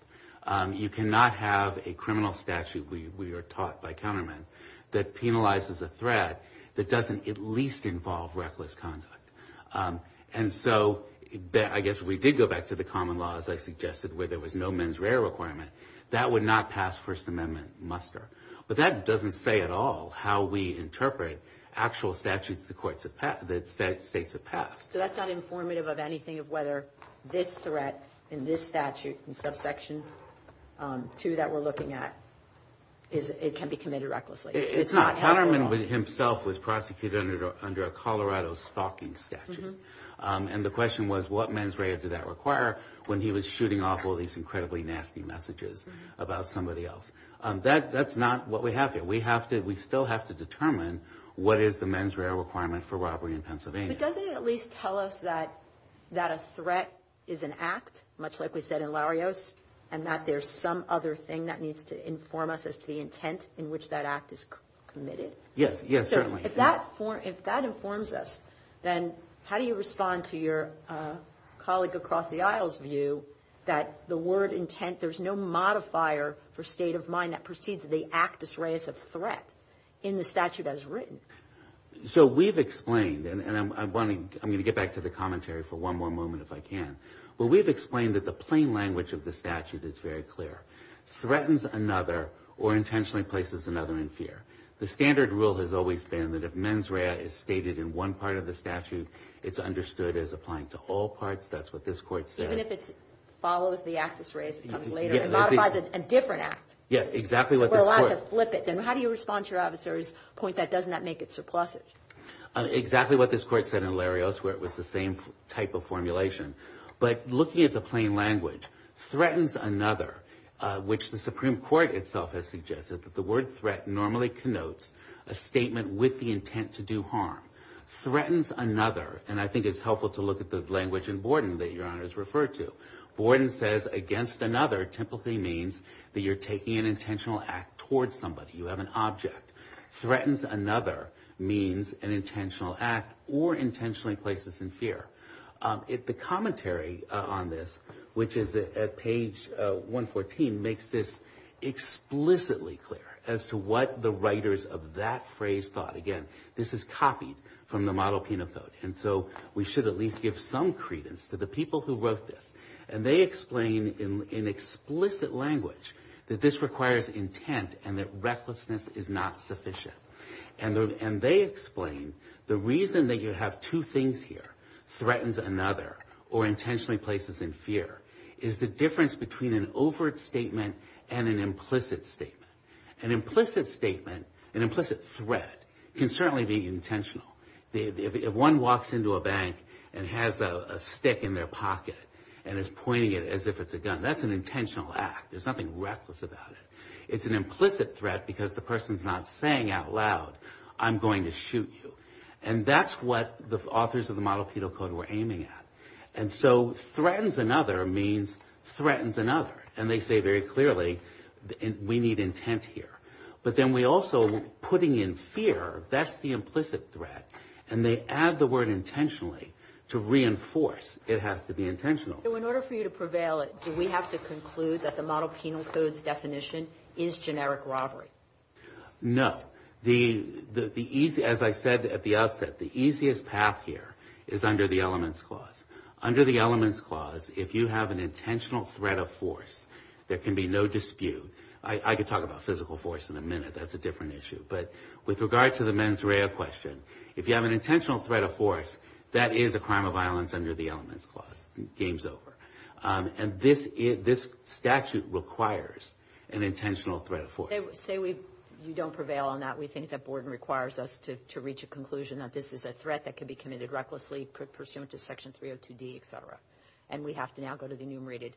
You cannot have a criminal statute, we are taught by Counterman, that penalizes a threat that doesn't at least involve reckless conduct. And so I guess we did go back to the common law, as I suggested, where there was no mens rea requirement. That would not pass First Amendment muster. But that doesn't say at all how we interpret actual statutes that states have passed. So that's not informative of anything of whether this threat in this statute, in subsection 2 that we're looking at, it can be committed recklessly. It's not. Counterman himself was prosecuted under a Colorado stalking statute. And the question was, what mens rea did that require when he was shooting off all these incredibly nasty messages about somebody else? That's not what we have here. We still have to determine what is the mens rea requirement for robbery in Pennsylvania. But doesn't it at least tell us that a threat is an act, much like we said in Larios, and that there's some other thing that needs to inform us as to the intent in which that act is committed? Yes. Yes, certainly. If that informs us, then how do you respond to your colleague across the aisle's view that the word intent, there's no modifier for state of mind that precedes the actus reus of threat in the statute as written? So we've explained, and I'm wanting, I'm going to get back to the commentary for one more moment if I can. Well, we've explained that the plain language of the statute is very clear. Threatens another or intentionally places another in fear. The standard rule has always been that if mens rea is stated in one part of the statute, it's understood as applying to all parts. That's what this court said. Even if it follows the actus reus, it comes later. It modifies a different act. Yeah, exactly. We're allowed to flip it. Then how do you respond to your officer's point that does not make it surplusive? Exactly what this court said in Larios, where it was the same type of formulation. But looking at the plain language, threatens another, which the Supreme Court itself has suggested that the word threat normally connotes a statement with the intent to do harm. Threatens another, and I think it's helpful to look at the language in Borden that your Honor has referred to. Borden says against another typically means that you're taking an intentional act towards somebody. You have an object. Threatens another means an intentional act or intentionally places in fear. The commentary on this, which is at page 114, makes this explicitly clear as to what the writers of that phrase thought. Again, this is copied from the model peanut boat, and so we should at least give some credence to the people who wrote this. And they explain in explicit language that this requires intent and that recklessness is not sufficient. And they explain the reason that you have two things here, threatens another, or intentionally places in fear, is the difference between an overt statement and an implicit statement. An implicit statement, an implicit threat, can certainly be intentional. If one walks into a bank and has a stick in their pocket and is pointing it as if it's a gun, that's an intentional act. There's nothing reckless about it. It's an implicit threat because the person's not saying out loud, I'm going to shoot you. And that's what the authors of the model penal code were aiming at. And so threatens another means threatens another. And they say very clearly, we need intent here. But then we also, putting in fear, that's the implicit threat. And they add the word intentionally to reinforce it has to be intentional. So in order for you to prevail, do we have to conclude that the model penal code's definition is generic robbery? No. As I said at the outset, the easiest path here is under the elements clause. Under the elements clause, if you have an intentional threat of force, there can be no dispute. I could talk about physical force in a minute. That's a different issue. But with regard to the mens rea question, if you have an intentional threat of force, that is a crime of violence under the elements clause. Game's over. And this statute requires an intentional threat of force. Say we don't prevail on that. We think that Borden requires us to reach a conclusion that this is a threat that could be committed recklessly pursuant to section 302D, et cetera. And we have to now go to the enumerated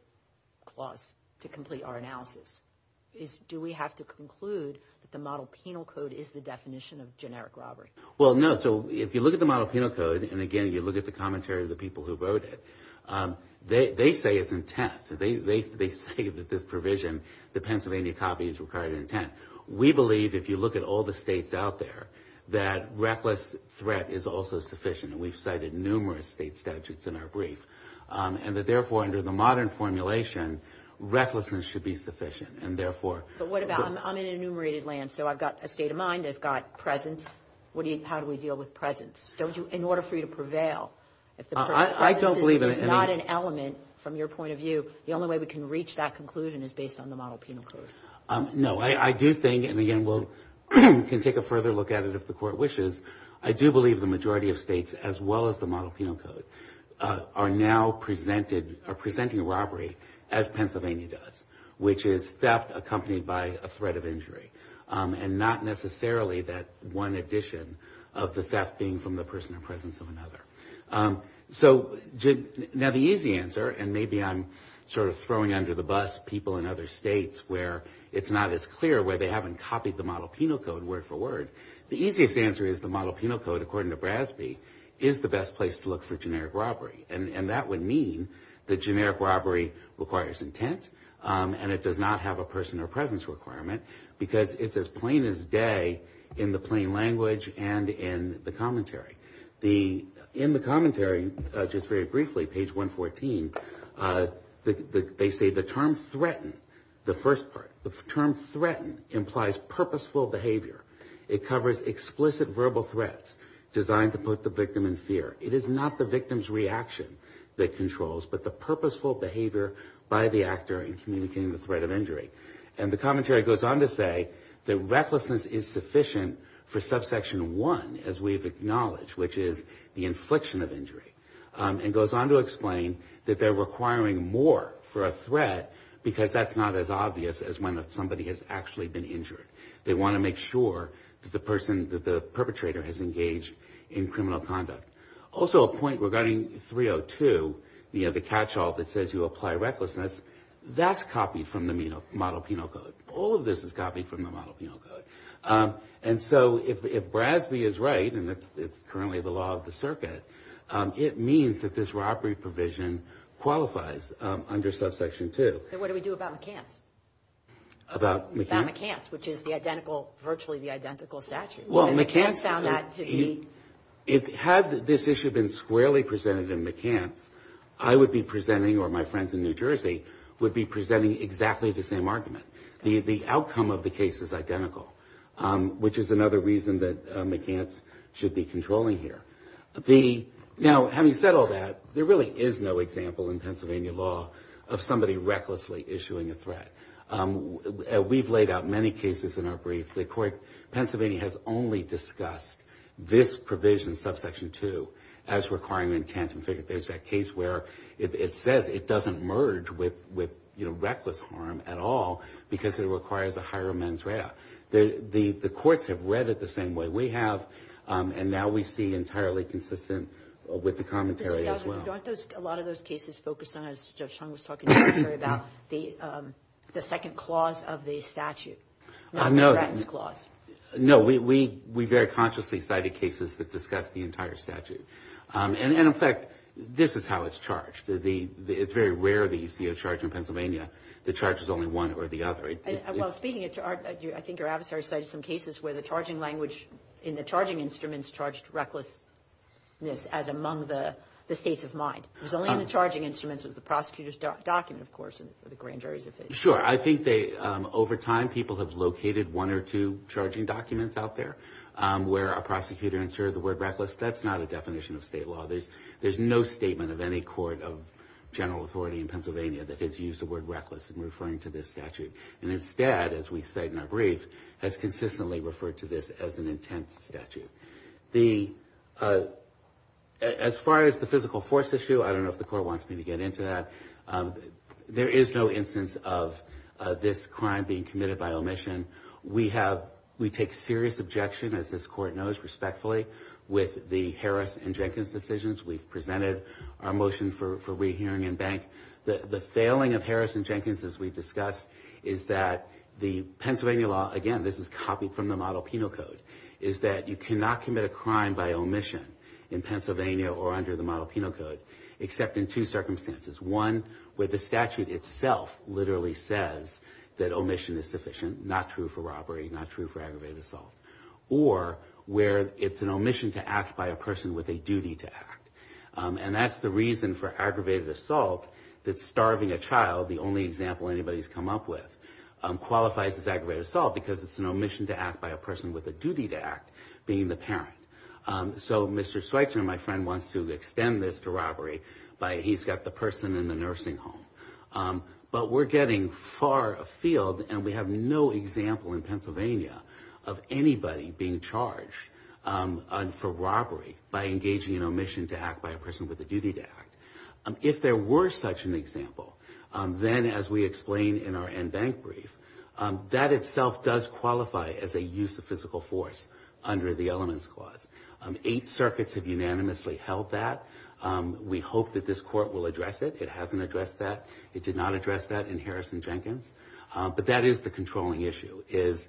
clause to complete our analysis. Do we have to conclude that the model penal code is the definition of generic robbery? Well, no. So if you look at the model penal code, and again, you look at the commentary of the people who wrote it, they say it's intent. They say that this provision, the Pennsylvania copy, is required intent. We believe, if you look at all the states out there, that reckless threat is also sufficient. And we've cited numerous state statutes in our brief. And that therefore, under the modern formulation, recklessness should be sufficient. And therefore- But what about, I'm in enumerated land. So I've got a state of mind. I've got presence. How do we deal with presence? In order for you to prevail, if the presence is not an element, from your point of view, the only way we can reach that conclusion is based on the model penal code. No. I do think, and again, we can take a further look at it if the court wishes, I do believe the majority of states, as well as the model penal code, are now presenting robbery as Pennsylvania does, which is theft accompanied by a threat of injury. And not necessarily that one addition of the theft being from the person or presence of another. So now the easy answer, and maybe I'm sort of throwing under the bus people in other states where it's not as clear, where they haven't copied the model penal code word for word. The easiest answer is the model penal code, according to Brasby, is the best place to look for generic robbery. And that would mean that generic robbery requires intent, and it does not have a person or it's as plain as day in the plain language and in the commentary. In the commentary, just very briefly, page 114, they say the term threaten, the first part, the term threaten implies purposeful behavior. It covers explicit verbal threats designed to put the victim in fear. It is not the victim's reaction that controls, but the purposeful behavior by the actor in communicating the threat of injury. And the commentary goes on to say that recklessness is sufficient for subsection one, as we've acknowledged, which is the infliction of injury. And goes on to explain that they're requiring more for a threat because that's not as obvious as when somebody has actually been injured. They want to make sure that the person, that the perpetrator has engaged in criminal conduct. Also a point regarding 302, you know, the catch all that says you apply recklessness, that's copied from the model penal code. All of this is copied from the model penal code. And so if Brasby is right, and it's currently the law of the circuit, it means that this robbery provision qualifies under subsection two. And what do we do about McCants? About McCants, which is the identical, virtually the identical statute. Well, McCants, had this issue been squarely presented in McCants, I would be presenting or my friends in New Jersey would be presenting exactly the same argument. The outcome of the case is identical, which is another reason that McCants should be controlling here. Now, having said all that, there really is no example in Pennsylvania law of somebody recklessly issuing a threat. We've laid out many cases in our brief, the court, Pennsylvania has only discussed this provision, subsection two, as requiring intent and figured there's that case where it says it doesn't merge with, you know, reckless harm at all, because it requires a higher mens rea. The courts have read it the same way we have, and now we see entirely consistent with the commentary as well. Mr. Chauvin, a lot of those cases focus on, as Judge Chung was talking about, the second clause of the statute, not the Bratton's clause. No, we very consciously cited cases that discuss the entire statute. And in fact, this is how it's charged. It's very rare that you see a charge in Pennsylvania, the charge is only one or the other. Well, speaking of charge, I think your adversary cited some cases where the charging language in the charging instruments charged recklessness as among the states of mind. It was only in the charging instruments of the prosecutor's document, of course, and the grand jury's. Sure. I think they, over time, people have located one or two charging documents out there where a prosecutor inserted the word reckless. That's not a definition of state law. There's no statement of any court of general authority in Pennsylvania that has used the word reckless in referring to this statute. And instead, as we cite in our brief, has consistently referred to this as an intense statute. As far as the physical force issue, I don't know if the court wants me to get into that. There is no instance of this crime being committed by omission. We take serious objection, as this court knows respectfully, with the Harris and Jenkins decisions. We've presented our motion for rehearing in bank. The failing of Harris and Jenkins, as we've discussed, is that the Pennsylvania law, again, this is copied from the Model Penal Code, is that you cannot commit a crime by omission in Pennsylvania or under the Model Penal Code, except in two circumstances. One, where the statute itself literally says that omission is sufficient, not true for robbery, not true for aggravated assault. Or where it's an omission to act by a person with a duty to act. And that's the reason for aggravated assault, that starving a child, the only example anybody's come up with, qualifies as aggravated assault, because it's an omission to act by a person with a duty to act, being the parent. So Mr. Schweitzer, my friend, wants to extend this to robbery by he's got the person in the nursing home. But we're getting far afield, and we have no example in Pennsylvania of anybody being charged for robbery by engaging in omission to act by a person with a duty to act. If there were such an example, then as we explain in our end bank brief, that itself does qualify as a use of physical force under the Elements Clause. Eight circuits have unanimously held that. We hope that this court will address it. It hasn't addressed that. It did not address that in Harrison Jenkins. But that is the controlling issue, is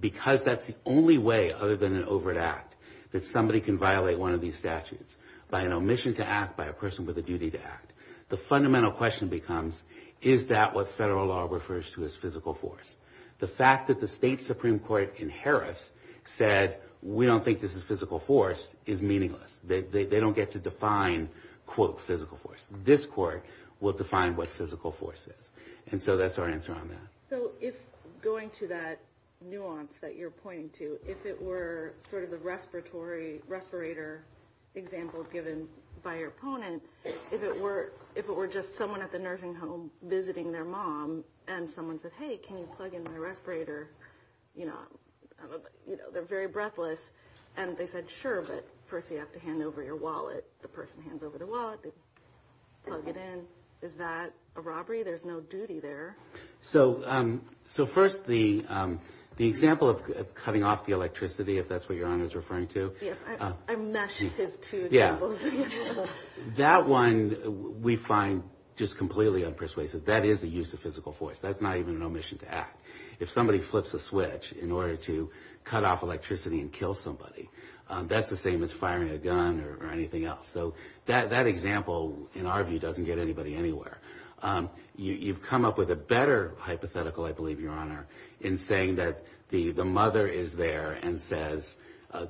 because that's the only way, other than an overt act, that somebody can violate one of these statutes by an omission to act by a person with a duty to act. The fundamental question becomes, is that what federal law refers to as physical force? The fact that the state Supreme Court in Harris said, we don't think this is physical force, is meaningless. They don't get to define, quote, physical force. This court will define what physical force is. And so that's our answer on that. So if going to that nuance that you're pointing to, if it were sort of the respirator example given by your opponent, if it were just someone at the nursing home visiting their mom, and my respirator, you know, they're very breathless. And they said, sure, but first you have to hand over your wallet. The person hands over the wallet. They plug it in. Is that a robbery? There's no duty there. So first, the example of cutting off the electricity, if that's what your Honor's referring to. Yeah, I meshed his two jingles. That one we find just completely unpersuasive. That is the use of physical force. That's not even an omission to act. If somebody flips a switch in order to cut off electricity and kill somebody, that's the same as firing a gun or anything else. So that example, in our view, doesn't get anybody anywhere. You've come up with a better hypothetical, I believe, Your Honor, in saying that the mother is there and says,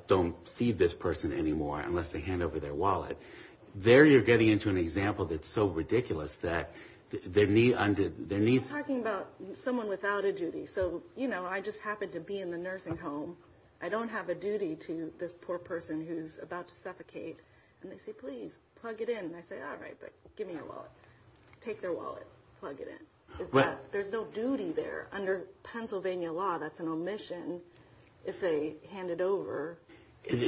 don't feed this person anymore unless they hand over their wallet. There you're getting into an example that's so ridiculous that there needs to be... I'm talking about someone without a duty. So, you know, I just happen to be in the nursing home. I don't have a duty to this poor person who's about to suffocate. And they say, please plug it in. And I say, all right, but give me your wallet. Take their wallet. Plug it in. There's no duty there. Under Pennsylvania law, that's an omission if they hand it over.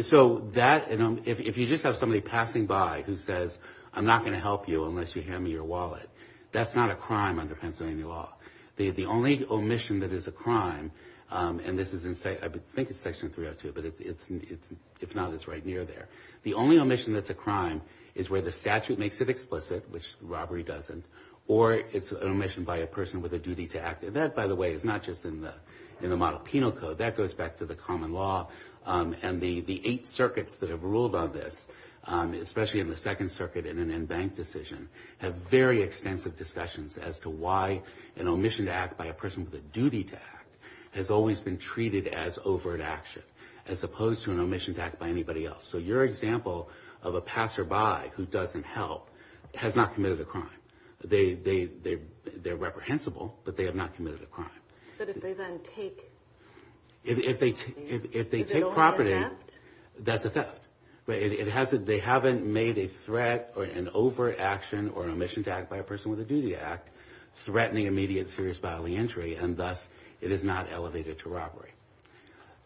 So that, if you just have somebody passing by who says, I'm not going to help you unless you hand me your wallet, that's not a crime under Pennsylvania law. The only omission that is a crime, and this is in, I think it's section 302, but if not, it's right near there. The only omission that's a crime is where the statute makes it explicit, which robbery doesn't, or it's an omission by a person with a duty to act. And that, by the way, is not just in the model penal code. That goes back to the common law and the eight circuits that have ruled on this, especially in the second circuit in an in-bank decision, have very extensive discussions as to why an omission to act by a person with a duty to act has always been treated as overt action, as opposed to an omission to act by anybody else. So your example of a passerby who doesn't help has not committed a crime. They're reprehensible, but they have not committed a crime. But if they then take property, is it only a theft? That's a theft. But it hasn't, they haven't made a threat or an over action or an omission to act by a person with a duty to act, threatening immediate serious bodily injury, and thus, it is not elevated to robbery.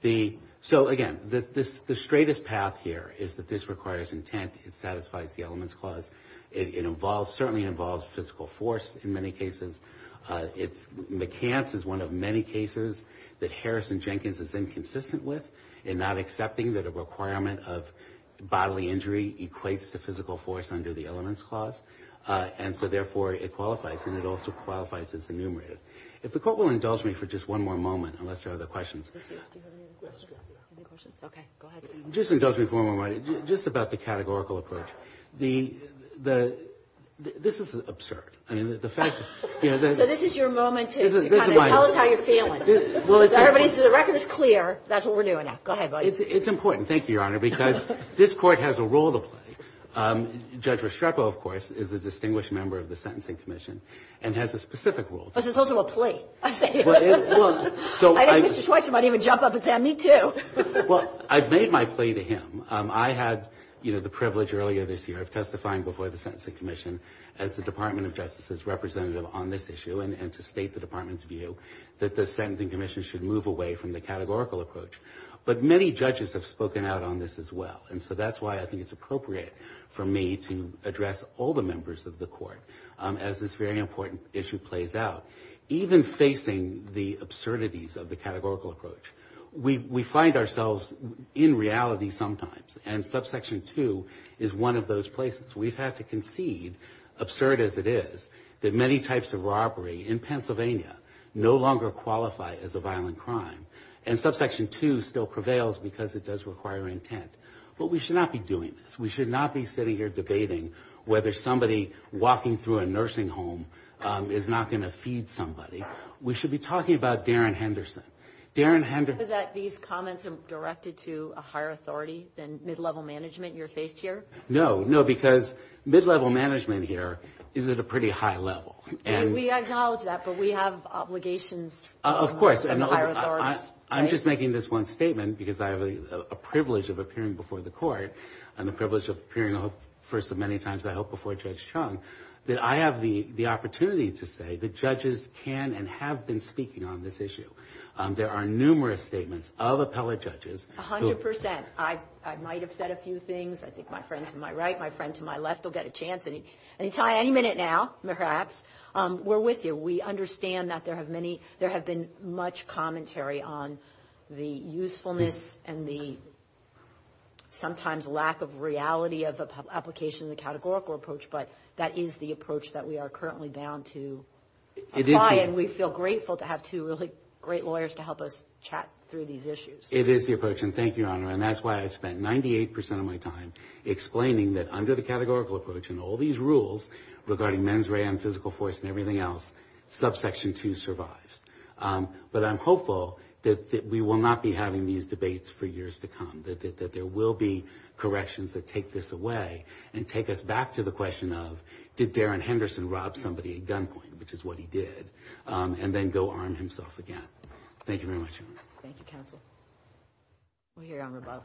The, so again, the straightest path here is that this requires intent. It satisfies the elements clause. It involves, certainly involves physical force in many cases. It's, McCance is one of many cases that Harrison Jenkins is inconsistent with in not accepting that a requirement of bodily injury equates to physical force under the elements clause. And so therefore, it qualifies, and it also qualifies as enumerated. If the court will indulge me for just one more moment, unless there are other questions. Do you have any other questions? Okay, go ahead. Just indulge me for one more moment, just about the categorical approach. The, the, this is absurd. I mean, the fact that, you know. So this is your moment to kind of tell us how you're feeling. Everybody, so the record is clear. That's what we're doing now. Go ahead. It's important. Thank you, Your Honor, because this court has a role to play. Judge Restrepo, of course, is a distinguished member of the Sentencing Commission and has a specific role. But it's also a plea. So I think Mr. Schweitzer might even jump up and say, me too. Well, I've made my plea to him. I had, you know, the privilege earlier this year of testifying before the Sentencing Commission as the Department of Justice's representative on this issue and to state the department's view that the Sentencing Commission should move away from the categorical approach. But many judges have spoken out on this as well. And so that's why I think it's appropriate for me to address all the members of the court as this very important issue plays out. Even facing the absurdities of the categorical approach, we, we find ourselves in reality sometimes. And Subsection 2 is one of those places. We've had to concede, absurd as it is, that many types of robbery in Pennsylvania no longer qualify as a violent crime. And Subsection 2 still prevails because it does require intent. But we should not be doing this. We should not be sitting here debating whether somebody walking through a nursing home is not going to feed somebody. We should be talking about Darren Henderson. Darren Henderson. Is it that these comments are directed to a higher authority than mid-level management you're faced here? No, no, because mid-level management here is at a pretty high level. And we acknowledge that, but we have obligations. Of course. I'm just making this one statement because I have a privilege of appearing before the court and the privilege of appearing first of many times, I hope, before Judge Chung, that I have the opportunity to say that judges can and have been speaking on this issue. There are numerous statements of appellate judges. A hundred percent. I might have said a few things. I think my friend to my right, my friend to my left will get a chance anytime, any minute now, perhaps. We're with you. We understand that there have many, there have been much commentary on the usefulness and the sometimes lack of reality of application of the categorical approach. But that is the approach that we are currently bound to apply. And we feel grateful to have two really great lawyers to help us chat through these issues. It is the approach. And thank you, Your Honor. And that's why I spent 98% of my time explaining that under the categorical approach and all these rules regarding mens rea and physical force and everything else, subsection 2 survives. But I'm hopeful that we will not be having these debates for years to come, that there will be corrections that take this away and take us back to the question of did Darren Henderson rob somebody at gunpoint, which is what he did, and then go arm himself again. Thank you very much, Your Honor. Thank you, counsel. We'll hear Your Honor above.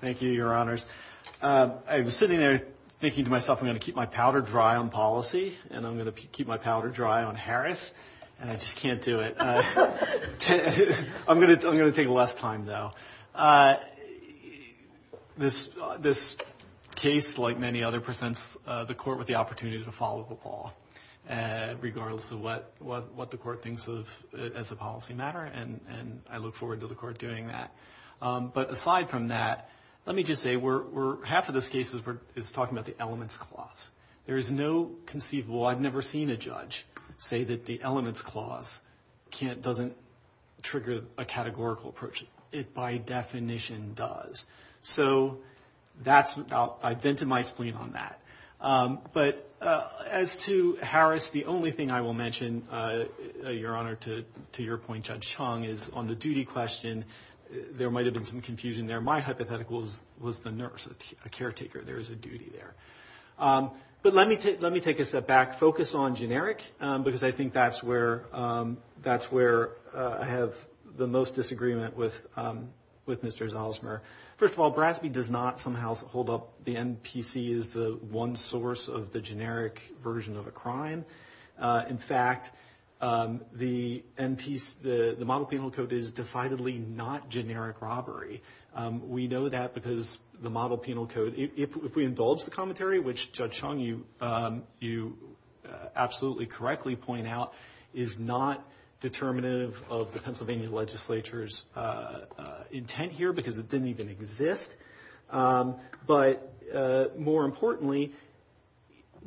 Thank you, Your Honors. I was sitting there thinking to myself, I'm going to keep my powder dry on policy. And I'm going to keep my powder dry on Harris. And I just can't do it. I'm going to take less time, though. This case, like many other, presents the court with the opportunity to follow the ball, regardless of what the court thinks of as a policy matter. And I look forward to the court doing that. But aside from that, let me just say half of this case is talking about the elements clause. There is no conceivable. I've never seen a judge say that the elements clause doesn't trigger a categorical approach. It, by definition, does. So I've vented my spleen on that. But as to Harris, the only thing I will mention, Your Honor, to your point, Judge Chung, is on the duty question, there might have been some confusion there. My hypothetical was the nurse, a caretaker. There is a duty there. But let me take a step back. Focus on generic, because I think that's where I have the most disagreement with Mr. Zalesmer. First of all, Brasby does not somehow hold up the NPC as the one source of the generic version of a crime. In fact, the model penal code is decidedly not generic robbery. We know that because the model penal code, if we indulge the commentary, which Judge Chung, you absolutely correctly point out, is not determinative of the Pennsylvania legislature's intent here, because it didn't even exist. But more importantly,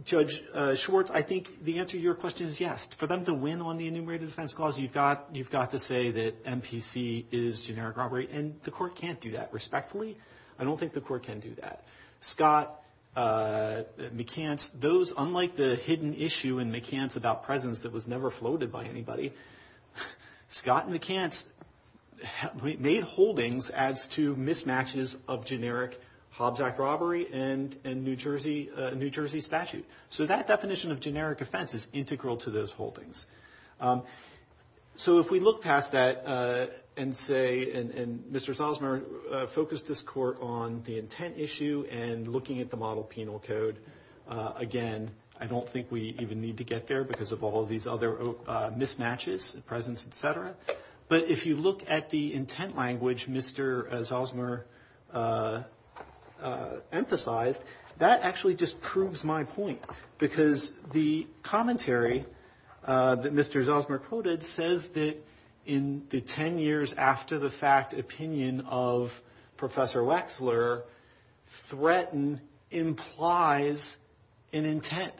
Judge Schwartz, I think the answer to your question is yes. For them to win on the enumerated defense clause, you've got to say that NPC is generic robbery. And the court can't do that, respectfully. I don't think the court can do that. Scott, McCants, those, unlike the hidden issue in McCants about presence that was never of generic Hobbs Act robbery and New Jersey statute. So that definition of generic offense is integral to those holdings. So if we look past that and say, and Mr. Zalesmer focused this court on the intent issue and looking at the model penal code, again, I don't think we even need to get there because of all of these other mismatches, presence, et cetera. But if you look at the intent language Mr. Zalesmer emphasized, that actually just proves my point, because the commentary that Mr. Zalesmer quoted says that in the 10 years after the fact opinion of Professor Wexler, threatened implies an intent.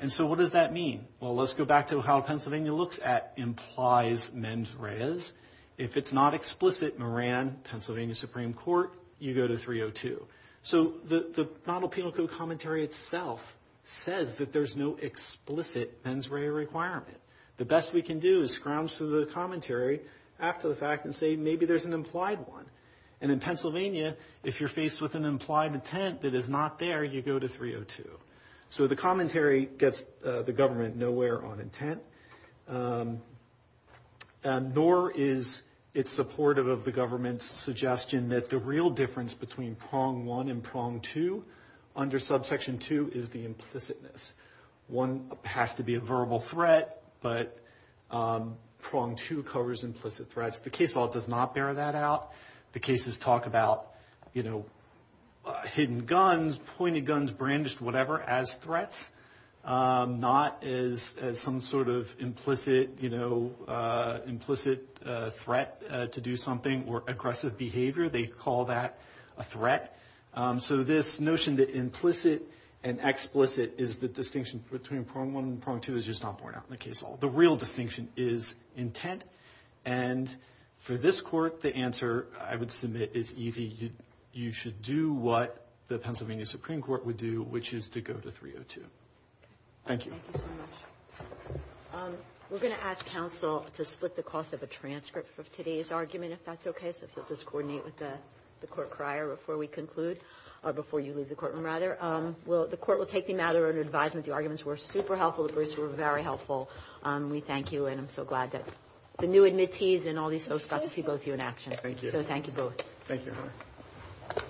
And so what does that mean? Well, let's go back to how Pennsylvania looks at implies mens reas. If it's not explicit, Moran, Pennsylvania Supreme Court, you go to 302. So the model penal code commentary itself says that there's no explicit mens rea requirement. The best we can do is scrounge through the commentary after the fact and say, maybe there's an implied one. And in Pennsylvania, if you're faced with an implied intent that is not there, you go to 302. So the commentary gets the government nowhere on intent, nor is it supportive of the government's suggestion that the real difference between prong one and prong two under subsection two is the implicitness. One has to be a verbal threat, but prong two covers implicit threats. The case law does not bear that out. The cases talk about hidden guns, pointed guns, brandished, whatever, as threats, not as some sort of implicit threat to do something or aggressive behavior. They call that a threat. So this notion that implicit and explicit is the distinction between prong one and prong two is just not borne out in the case law. The real distinction is intent. And for this court, the answer I would submit is easy. You should do what the Pennsylvania Supreme Court would do, which is to go to 302. Thank you. Thank you so much. We're going to ask counsel to split the cost of a transcript for today's argument, if that's okay. So if you'll just coordinate with the court crier before we conclude, or before you leave the courtroom, rather. The court will take the matter under advisement. The arguments were super helpful. The briefs were very helpful. We thank you, and I'm so glad that the new admittees and all these folks got to see both of you in action. Thank you. So thank you both. Thank you.